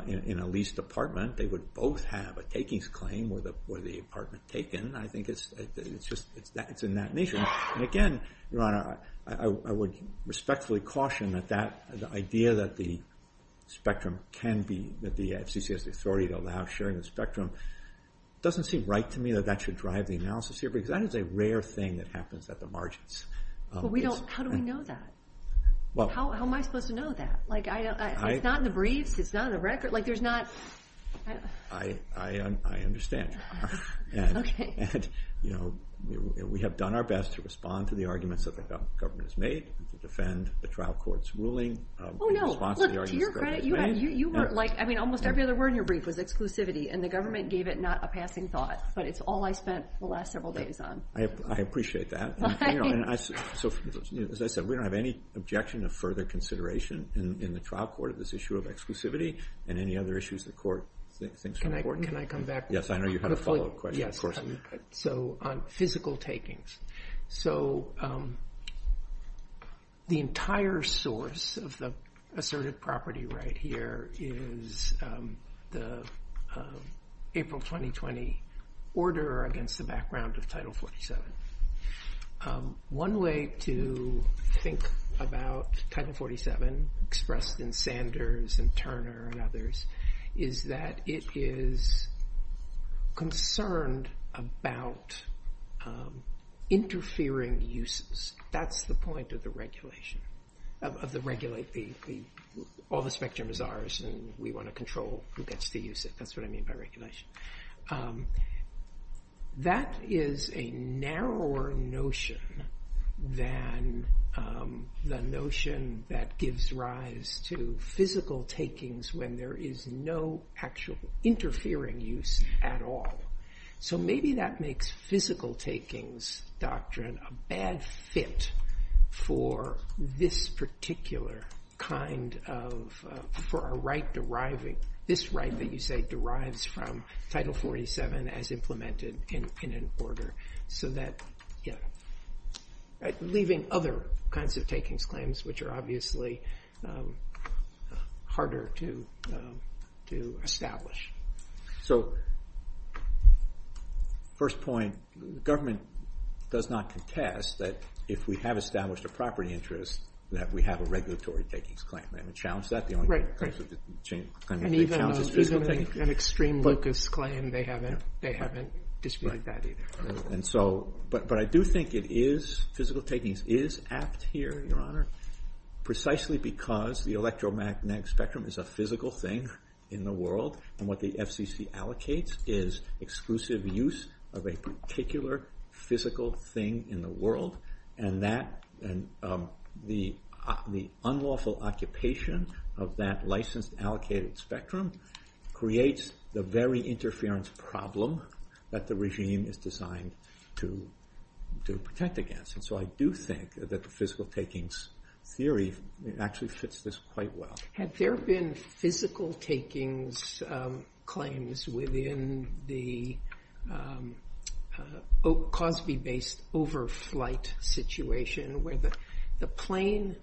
in a lease department, they would both have a takings claim with the apartment taken, I think it's in that nature. And again, Your Honor, I would respectfully caution that the idea that the FCC has the authority to allow sharing the spectrum doesn't seem right to me that that should drive the analysis here because that is a rare thing that happens at the margins. How do we know that? How am I supposed to know that? It's not in the brief. It's not on the record. I understand. We have done our best to respond to the arguments that the government has made, to defend the trial court's ruling. Oh, no. Look, you're right. I mean, almost every other word in your brief was exclusivity, and the government gave it not a passing thought, but it's all I spent the last several days on. I appreciate that. So, as I said, we don't have any objection to further consideration in the trial court of this issue of exclusivity and any other issues the court thinks are important. Can I come back? Yes, I know you have a follow-up question, of course. So, physical takings. So, the entire source of the assertive property right here is the April 2020 order against the background of Title 47. One way to think about Title 47, expressed in Sanders and Turner and others, is that it is concerned about interfering uses. That's the point of the regulation, of the regulate. All the spectrum is ours, and we want to control who gets to use it. That's what I mean by regulation. That is a narrower notion than the notion that gives rise to physical takings when there is no actual interfering use at all. So, maybe that makes physical takings doctrine a bad fit for this particular kind of, for a right deriving, this right that you say derives from Title 47 as implemented in an order, so that, you know, leaving other kinds of takings claims, which are obviously harder to establish. So, first point. Government does not contest that if we have established a property interest, that we have a regulatory takings claim. They haven't challenged that. Right, right. And even an extreme locused claim, they haven't disputed that either. But I do think it is, physical takings is apt here, Your Honor, precisely because the electromagnetic spectrum is a physical thing in the world, and what the FCC allocates is exclusive use of a particular physical thing in the world, and the unlawful occupation of that licensed allocated spectrum creates the very interference problem that the regime is designed to protect against. So, I do think that the physical takings theory actually fits this quite well. Had there been physical takings claims within the Cosby-based overflight situation, where the plane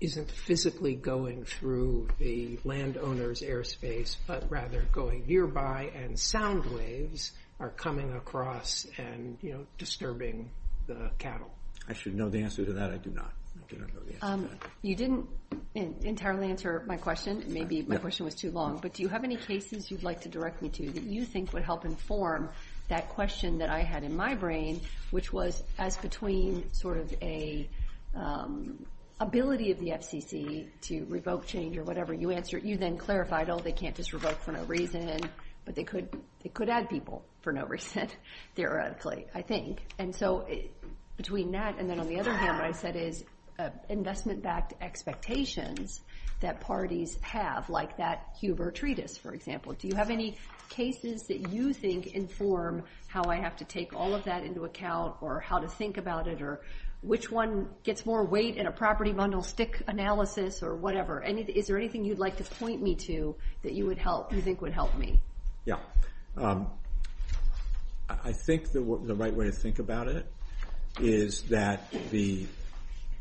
isn't physically going through the landowner's airspace, but rather going nearby, and sound waves are coming across and, you know, disturbing the cattle? I should know the answer to that. I do not. You didn't entirely answer my question. Maybe my question was too long. But do you have any cases you'd like to direct me to that you think would help inform that question that I had in my brain, which was as between sort of a ability of the FCC to revoke change or whatever, you then clarified, oh, they can't just revoke for no reason, but they could add people for no reason, theoretically, I think. And so between that and then on the other hand, what I said is investment-backed expectations that parties have, like that Huber Treatise, for example. Do you have any cases that you think inform how I have to take all of that into account or how to think about it or which one gets more weight in a property bundle stick analysis or whatever? Is there anything you'd like to point me to that you think would help me? Yeah. I think the right way to think about it is that the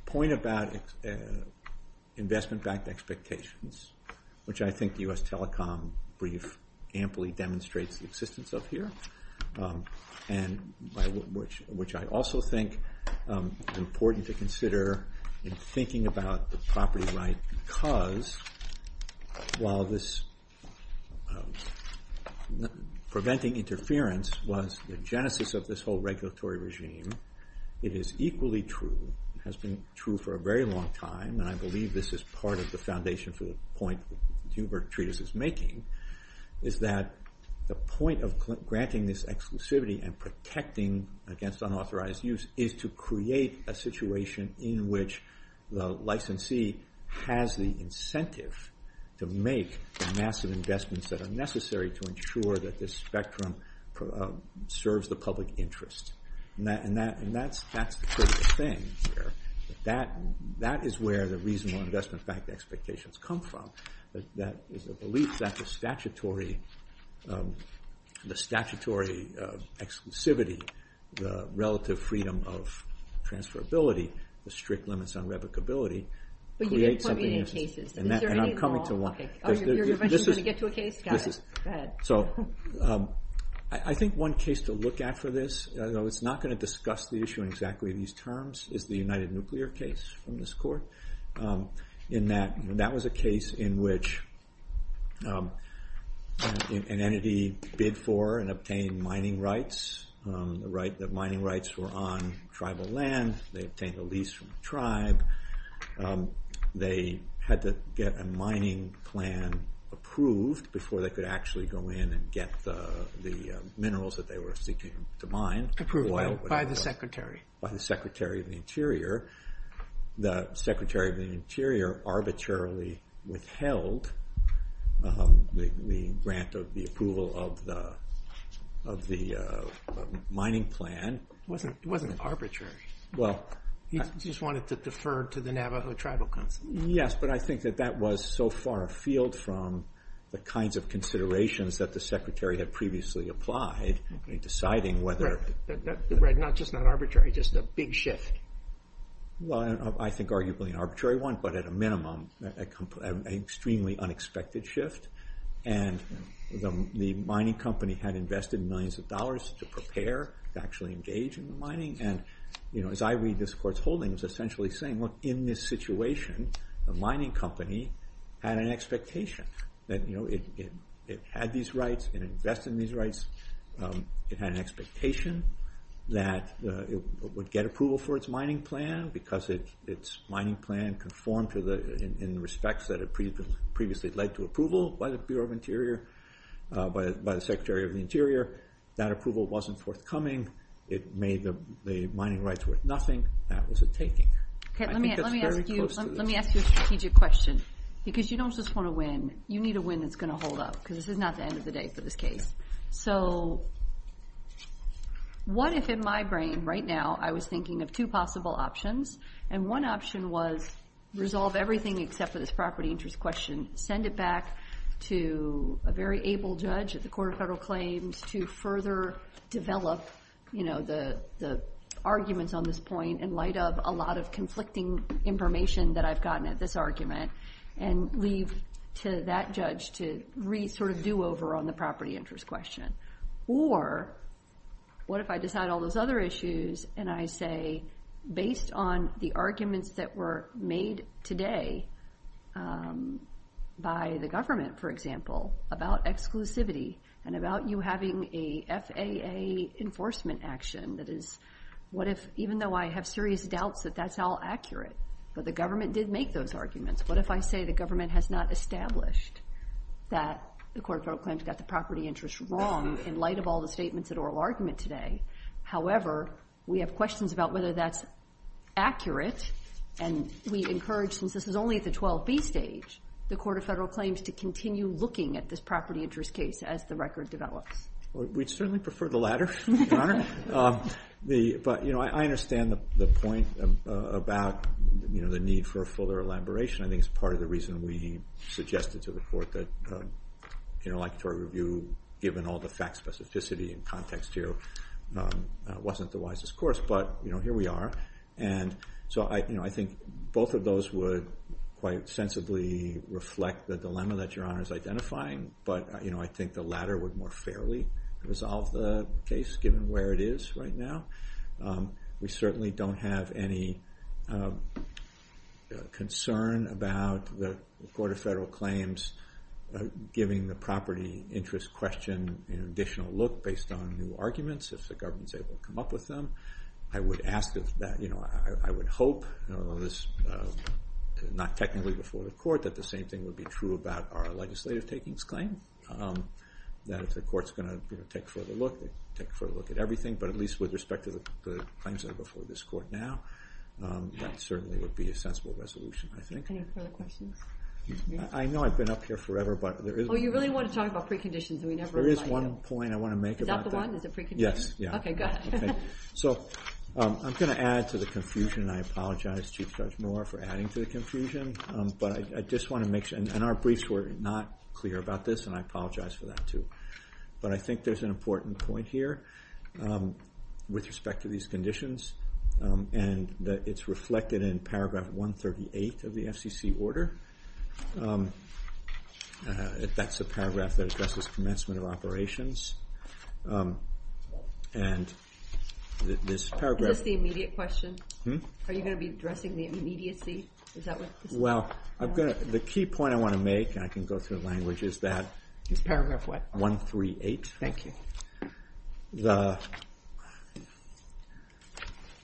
point about investment-backed expectations, which I think the U.S. Telecom Brief amply demonstrates the existence of here, and which I also think is important to consider in thinking about the property right because while this preventing interference was the genesis of this whole regulatory regime, it is equally true, has been true for a very long time, and I believe this is part of the foundation for the point Huber Treatise is making, is that the point of granting this exclusivity and protecting against unauthorized use is to create a situation in which the licensee has the incentive to make the massive investments that are necessary to ensure that this spectrum serves the public interest. And that's the critical thing here. That is where the reasonable investment-backed expectations come from. That is a belief that the statutory exclusivity relative freedom of transferability, the strict limits on revocability, create something... But you can't be in any cases. And I'm coming to one. Oh, you're going to get to a case? Got it. Go ahead. So I think one case to look at for this, though it's not going to discuss the issue in exactly these terms, is the United Nuclear case in this court. That was a case in which an entity bid for and obtained mining rights. The mining rights were on tribal land. They obtained a lease from the tribe. They had to get a mining plan approved before they could actually go in and get the minerals that they were seeking to mine. Approval by the Secretary. By the Secretary of the Interior. The Secretary of the Interior arbitrarily withheld the grant of the approval of the mining plan. It wasn't arbitrary. He just wanted to defer to the Navajo Tribal Council. Yes, but I think that that was so far afield from the kinds of considerations that the Secretary had previously applied in deciding whether... Not just not arbitrary, just a big shift. Well, I think arguably an arbitrary one, but at a minimum an extremely unexpected shift. And the mining company had invested millions of dollars to prepare, to actually engage in the mining. And as I read this court's holding, it's essentially saying, look, in this situation, the mining company had an expectation. It had these rights. It invested in these rights. It had an expectation that it would get approval for its mining plan because its mining plan conformed in respects that had previously led to approval by the Bureau of Interior, by the Secretary of the Interior. That approval wasn't forthcoming. It made the mining rights worth nothing. That was it taking. Let me ask you a strategic question because you don't just want to win. You need a win that's going to hold up because this is not the end of the day for this case. So what if in my brain right now I was thinking of two possible options, and one option was resolve everything except for this property interest question, send it back to a very able judge at the Court of Federal Claims to further develop the arguments on this point in light of a lot of conflicting information that I've gotten at this argument, and leave to that judge to sort of do over on the property interest question? Or what if I just had all those other issues and I say, based on the arguments that were made today by the government, for example, about exclusivity and about you having a FAA enforcement action, what if even though I have serious doubts that that's all accurate, but the government did make those arguments, what if I say the government has not established that the Court of Federal Claims got the property interest wrong in light of all the statements in oral argument today? However, we have questions about whether that's accurate, and we encourage, since this is only at the 12B stage, the Court of Federal Claims to continue looking at this property interest case as the record develops. We'd certainly prefer the latter, Your Honor. But I understand the point about the need for a fuller elaboration. I think it's part of the reason we suggested to the Court that, like for a review, given all the fact specificity and context here, it wasn't the wisest course. But here we are. And so I think both of those would quite sensibly reflect the dilemma that Your Honor is identifying, but I think the latter would more fairly resolve the case, given where it is right now. We certainly don't have any concern about the Court of Federal Claims giving the property interest question an additional look based on new arguments, if the government is able to come up with them. I would hope, not technically before the Court, that the same thing would be true about our legislative takings claim, that if the Court's going to take a further look, it would take a further look at everything, but at least with respect to the claims that are before this Court now, that certainly would be a sensible resolution, I think. Any further questions? I know I've been up here forever, but there is one point I want to make about that. Is that the one? Is it preconditions? Yes. Okay, good. So I'm going to add to the confusion, and I apologize, Chief Judge Moore, for adding to the confusion, but I just want to make sure, and our briefs were not clear about this, and I apologize for that, too. But I think there's an important point here with respect to these conditions, and it's reflected in paragraph 138 of the FCC order. That's the paragraph that addresses commencement of operations, and this paragraph… Is this the immediate question? Are you going to be addressing the immediacy? Well, the key point I want to make, and I can go through the language, is that… Paragraph what? 138.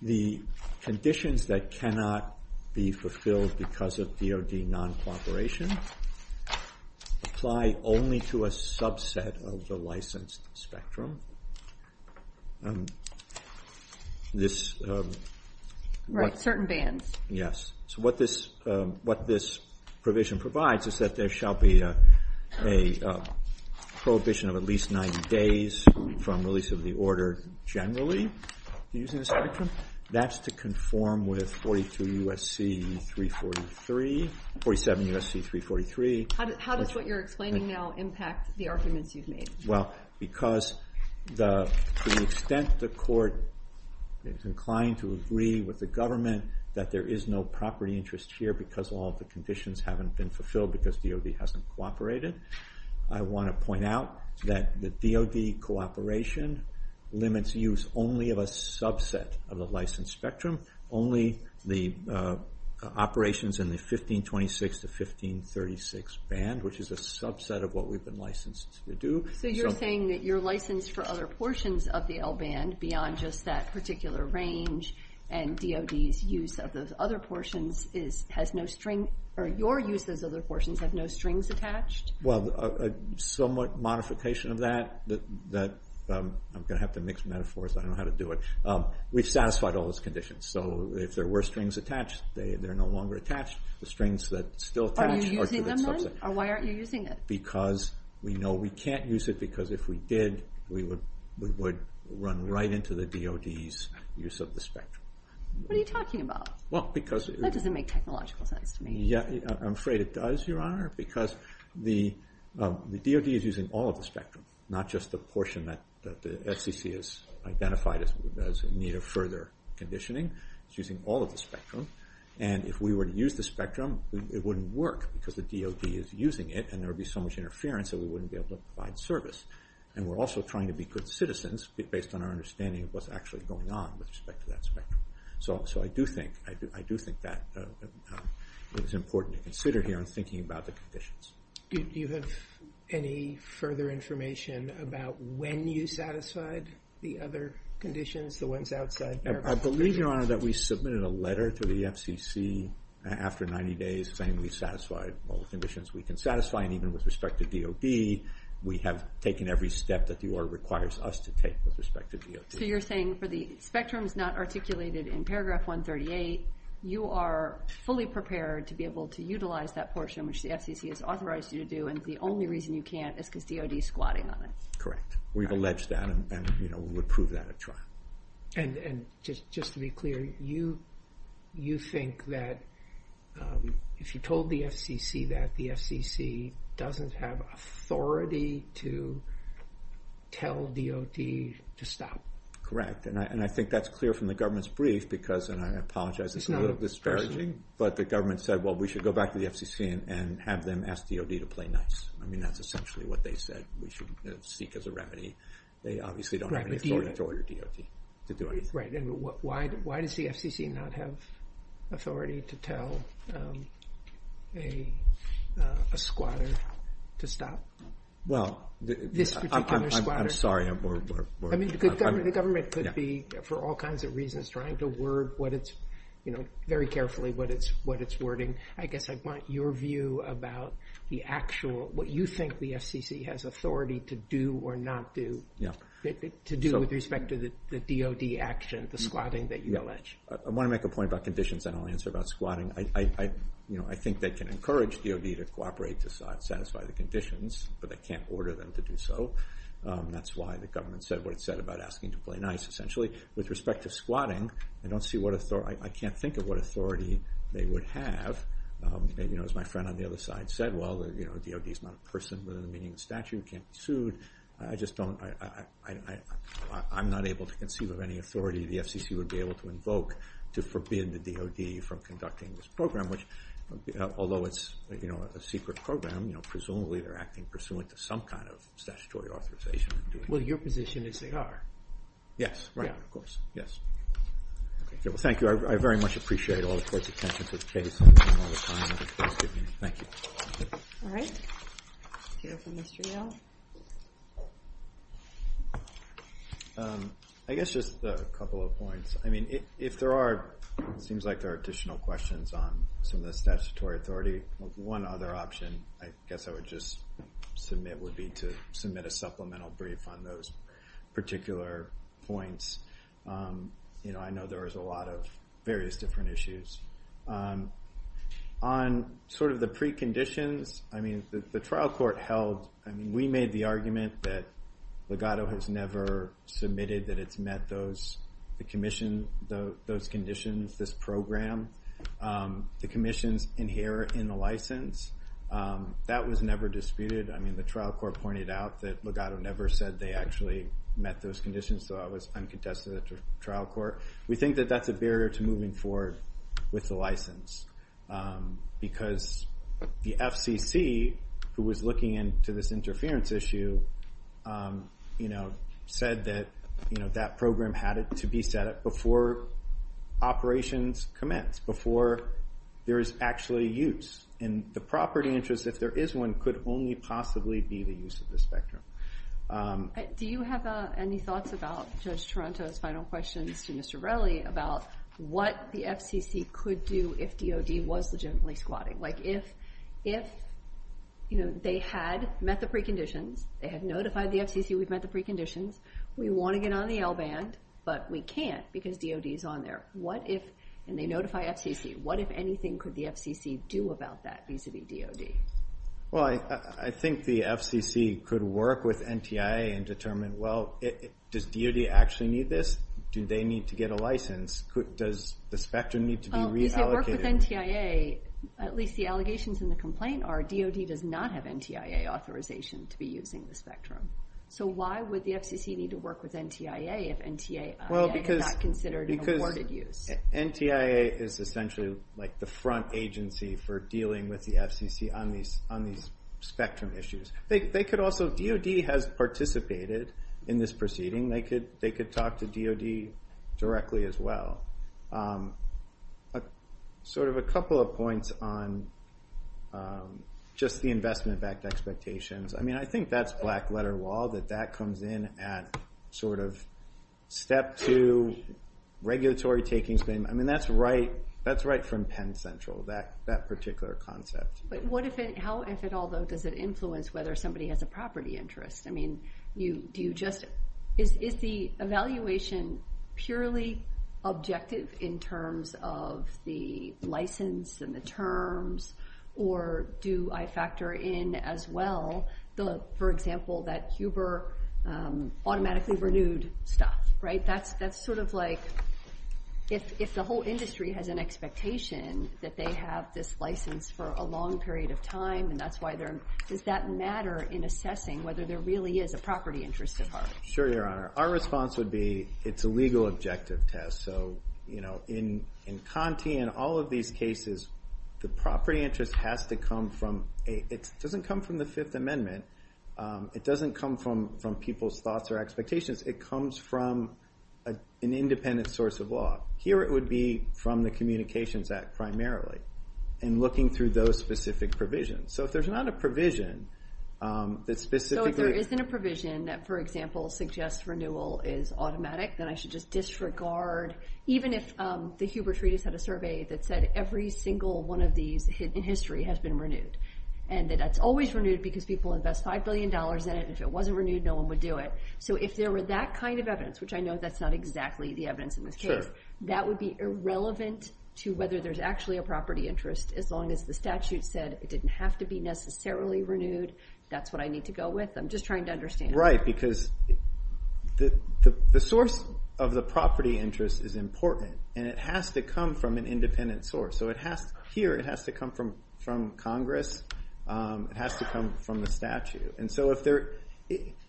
The conditions that cannot be fulfilled because of DOD non-cooperation apply only to a subset of the license spectrum. Right, certain bands. Yes. So what this provision provides is that there shall be a prohibition of at least 90 days from release of the order generally. That's to conform with 42 U.S.C. 343, 47 U.S.C. 343. How does what you're explaining now impact the arguments you've made? Well, because to the extent the court is inclined to agree with the government that there is no property interest here because all of the conditions haven't been fulfilled because DOD hasn't cooperated, I want to point out that the DOD cooperation limits use only of a subset of the license spectrum, only the operations in the 1526 to 1536 band, which is a subset of what we've been licensed to do. So you're saying that your license for other portions of the L band beyond just that particular range and DOD's use of those other portions has no string, or your use of those other portions has no strings attached? Well, a somewhat modification of that, I'm going to have to mix metaphors, I don't know how to do it. We've satisfied all those conditions. So if there were strings attached, they're no longer attached. The strings that still attach… Are you using them, then? Or why aren't you using it? Because we know we can't use it because if we did, we would run right into the DOD's use of the spectrum. What are you talking about? Well, because… That doesn't make technological sense to me. I'm afraid it does, Your Honor, because the DOD is using all of the spectrum, not just the portion that the FCC has identified as in need of further conditioning. It's using all of the spectrum. And if we were to use the spectrum, it wouldn't work because the DOD is using it and there would be so much interference that we wouldn't be able to provide service. And we're also trying to be good citizens based on our understanding of what's actually going on with respect to that spectrum. So I do think that is important to consider here in thinking about the conditions. Do you have any further information about when you satisfied the other conditions, the ones outside? I believe, Your Honor, that we submitted a letter to the FCC after 90 days saying we satisfied all the conditions. We can satisfy them even with respect to DOD. We have taken every step that the order requires us to take with respect to DOD. So you're saying for the spectrum not articulated in paragraph 138, you are fully prepared to be able to utilize that portion, which the FCC has authorized you to do, and the only reason you can't is because DOD is squatting on it. Correct. We've alleged that and we'll approve that at trial. And just to be clear, you think that if you told the FCC that the FCC doesn't have authority to tell DOD to stop? Correct. And I think that's clear from the government's brief because, and I apologize, it's a little disparaging, but the government said, well, we should go back to the FCC and have them ask DOD to play nice. I mean, that's essentially what they said. We shouldn't speak as a remedy. They obviously don't have the authority to order DOD to do it. And why does the FCC not have authority to tell a squatter to stop? Well, I'm sorry. I mean, the government could be, for all kinds of reasons, trying to word what it's, you know, very carefully what it's wording. I guess I want your view about the actual, what you think the FCC has authority to do or not do, to do with respect to the DOD action, the squatting that you allege. I want to make a point about conditions. I don't want to answer about squatting. I think they can encourage DOD to cooperate to satisfy the conditions, but they can't order them to do so. That's why the government said what it said about asking to play nice, essentially. With respect to squatting, I don't see what authority, I can't think of what authority they would have. You know, as my friend on the other side said, well, you know, DOD is not a person within the meaning of statute, can't be sued. I just don't, I'm not able to conceive of any authority the FCC would be able to invoke to forbid the DOD from conducting this program, which, although it's, you know, a secret program, you know, presumably they're acting pursuant to some kind of statutory authorization. Well, your position is they are. Yes. Right. Yes. Okay. Thank you. I very much appreciate all the court's attention to this case. Thank you. All right. I guess just a couple of points. I mean, if there are, it seems like there are additional questions on some of the statutory authority, one other option I guess I would just submit would be to submit a supplemental brief on those particular points. You know, I know there was a lot of various different issues. On sort of the preconditions, I mean, the trial court held, I mean, we made the argument that Legato has never submitted that it's met those, the commission, those conditions, this program. The commission's inherent in the license. That was never disputed. I mean, the trial court pointed out that Legato never said they actually met those conditions, so that was uncontested at the trial court. We think that that's a barrier to moving forward with the license because the FCC, who was looking into this interference issue, you know, said that, you know, that program had to be set up before operations commence, before there is actually use. And the property interest, if there is one, could only possibly be the use of the spectrum. Do you have any thoughts about Judge Toronto's final question to Mr. Relly about what the FCC could do if DOD was legitimately squatting? Like, if, you know, they had met the preconditions, they had notified the FCC we've met the preconditions, we want to get on the L-band, but we can't because DOD's on there. And they notify FCC. What, if anything, could the FCC do about that vis-a-vis DOD? Well, I think the FCC could work with NTIA and determine, well, does DOD actually need this? Do they need to get a license? Does the spectrum need to be reallocated? Well, if they work with NTIA, at least the allegations in the complaint are DOD does not have NTIA authorization to be using the spectrum. So why would the FCC need to work with NTIA if NTIA is not considered an afforded use? NTIA is essentially like the front agency for dealing with the FCC on these spectrum issues. They could also, if DOD has participated in this proceeding, they could talk to DOD directly as well. Sort of a couple of points on just the investment backed expectations. I mean, I think that's black letter law, that that comes in at sort of step two, regulatory taking. I mean, that's right from Penn Central, that particular concept. But how, if at all, does it influence whether somebody has a property interest? I mean, do you just, is the evaluation purely objective in terms of the license and the terms? Or do I factor in as well, for example, that Huber automatically renewed stuff, right? That's sort of like, if the whole industry has an expectation that they have this license for a long period of time, and that's why they're, does that matter in assessing whether there really is a property interest at heart? Sure, Your Honor. Our response would be it's a legal objective test. So, you know, in CONTI and all of these cases, the property interest has to come from, it doesn't come from the Fifth Amendment. It doesn't come from people's thoughts or expectations. It comes from an independent source of law. Here it would be from the Communications Act primarily, and looking through those specific provisions. So if there's not a provision that specifically- So if there isn't a provision that, for example, suggests renewal is automatic, then I should just disregard, even if the Huber Treaties had a survey that said every single one of these in history has been renewed, and that that's always renewed because people invest $5 billion in it. If it wasn't renewed, no one would do it. So if there were that kind of evidence, which I know that's not exactly the evidence in this case, that would be irrelevant to whether there's actually a property interest, as long as the statute said it didn't have to be necessarily renewed. That's what I need to go with. I'm just trying to understand. Right, because the source of the property interest is important, and it has to come from an independent source. So here it has to come from Congress. It has to come from the statute.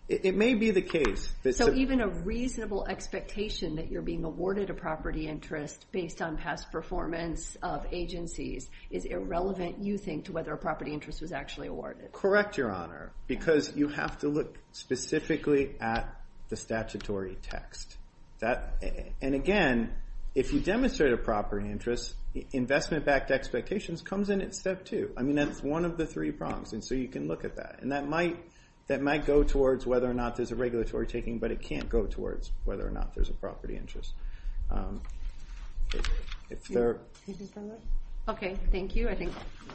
It may be the case that- So even a reasonable expectation that you're being awarded a property interest based on past performance of agencies is irrelevant, you think, to whether a property interest was actually awarded. Correct, Your Honor, because you have to look specifically at the statutory text. And, again, if you demonstrate a property interest, investment-backed expectations comes in at step two. I mean, that's one of the three prongs, and so you can look at that. And that might go towards whether or not there's a regulatory taking, but it can't go towards whether or not there's a property interest. Okay, thank you.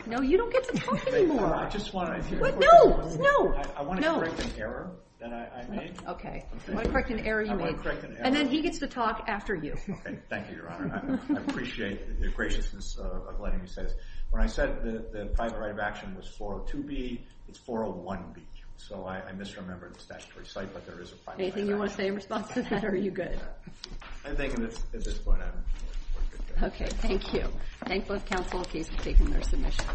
No, you don't get to talk anymore. I just want to- No, no. I want to correct an error that I made. Okay. I want to correct an error you made. I want to correct an error. And then he gets to talk after you. Okay. Thank you, Your Honor. I appreciate the appreciations of letting me say this. When I said the primary of action was 402B, it's 401B. So I misremembered the statutory site, but there is a primary of action. Anything you want to say in response to that, or are you good? I think at this point I'm good. Okay, thank you. Thanks, both counsel, for taking their submissions.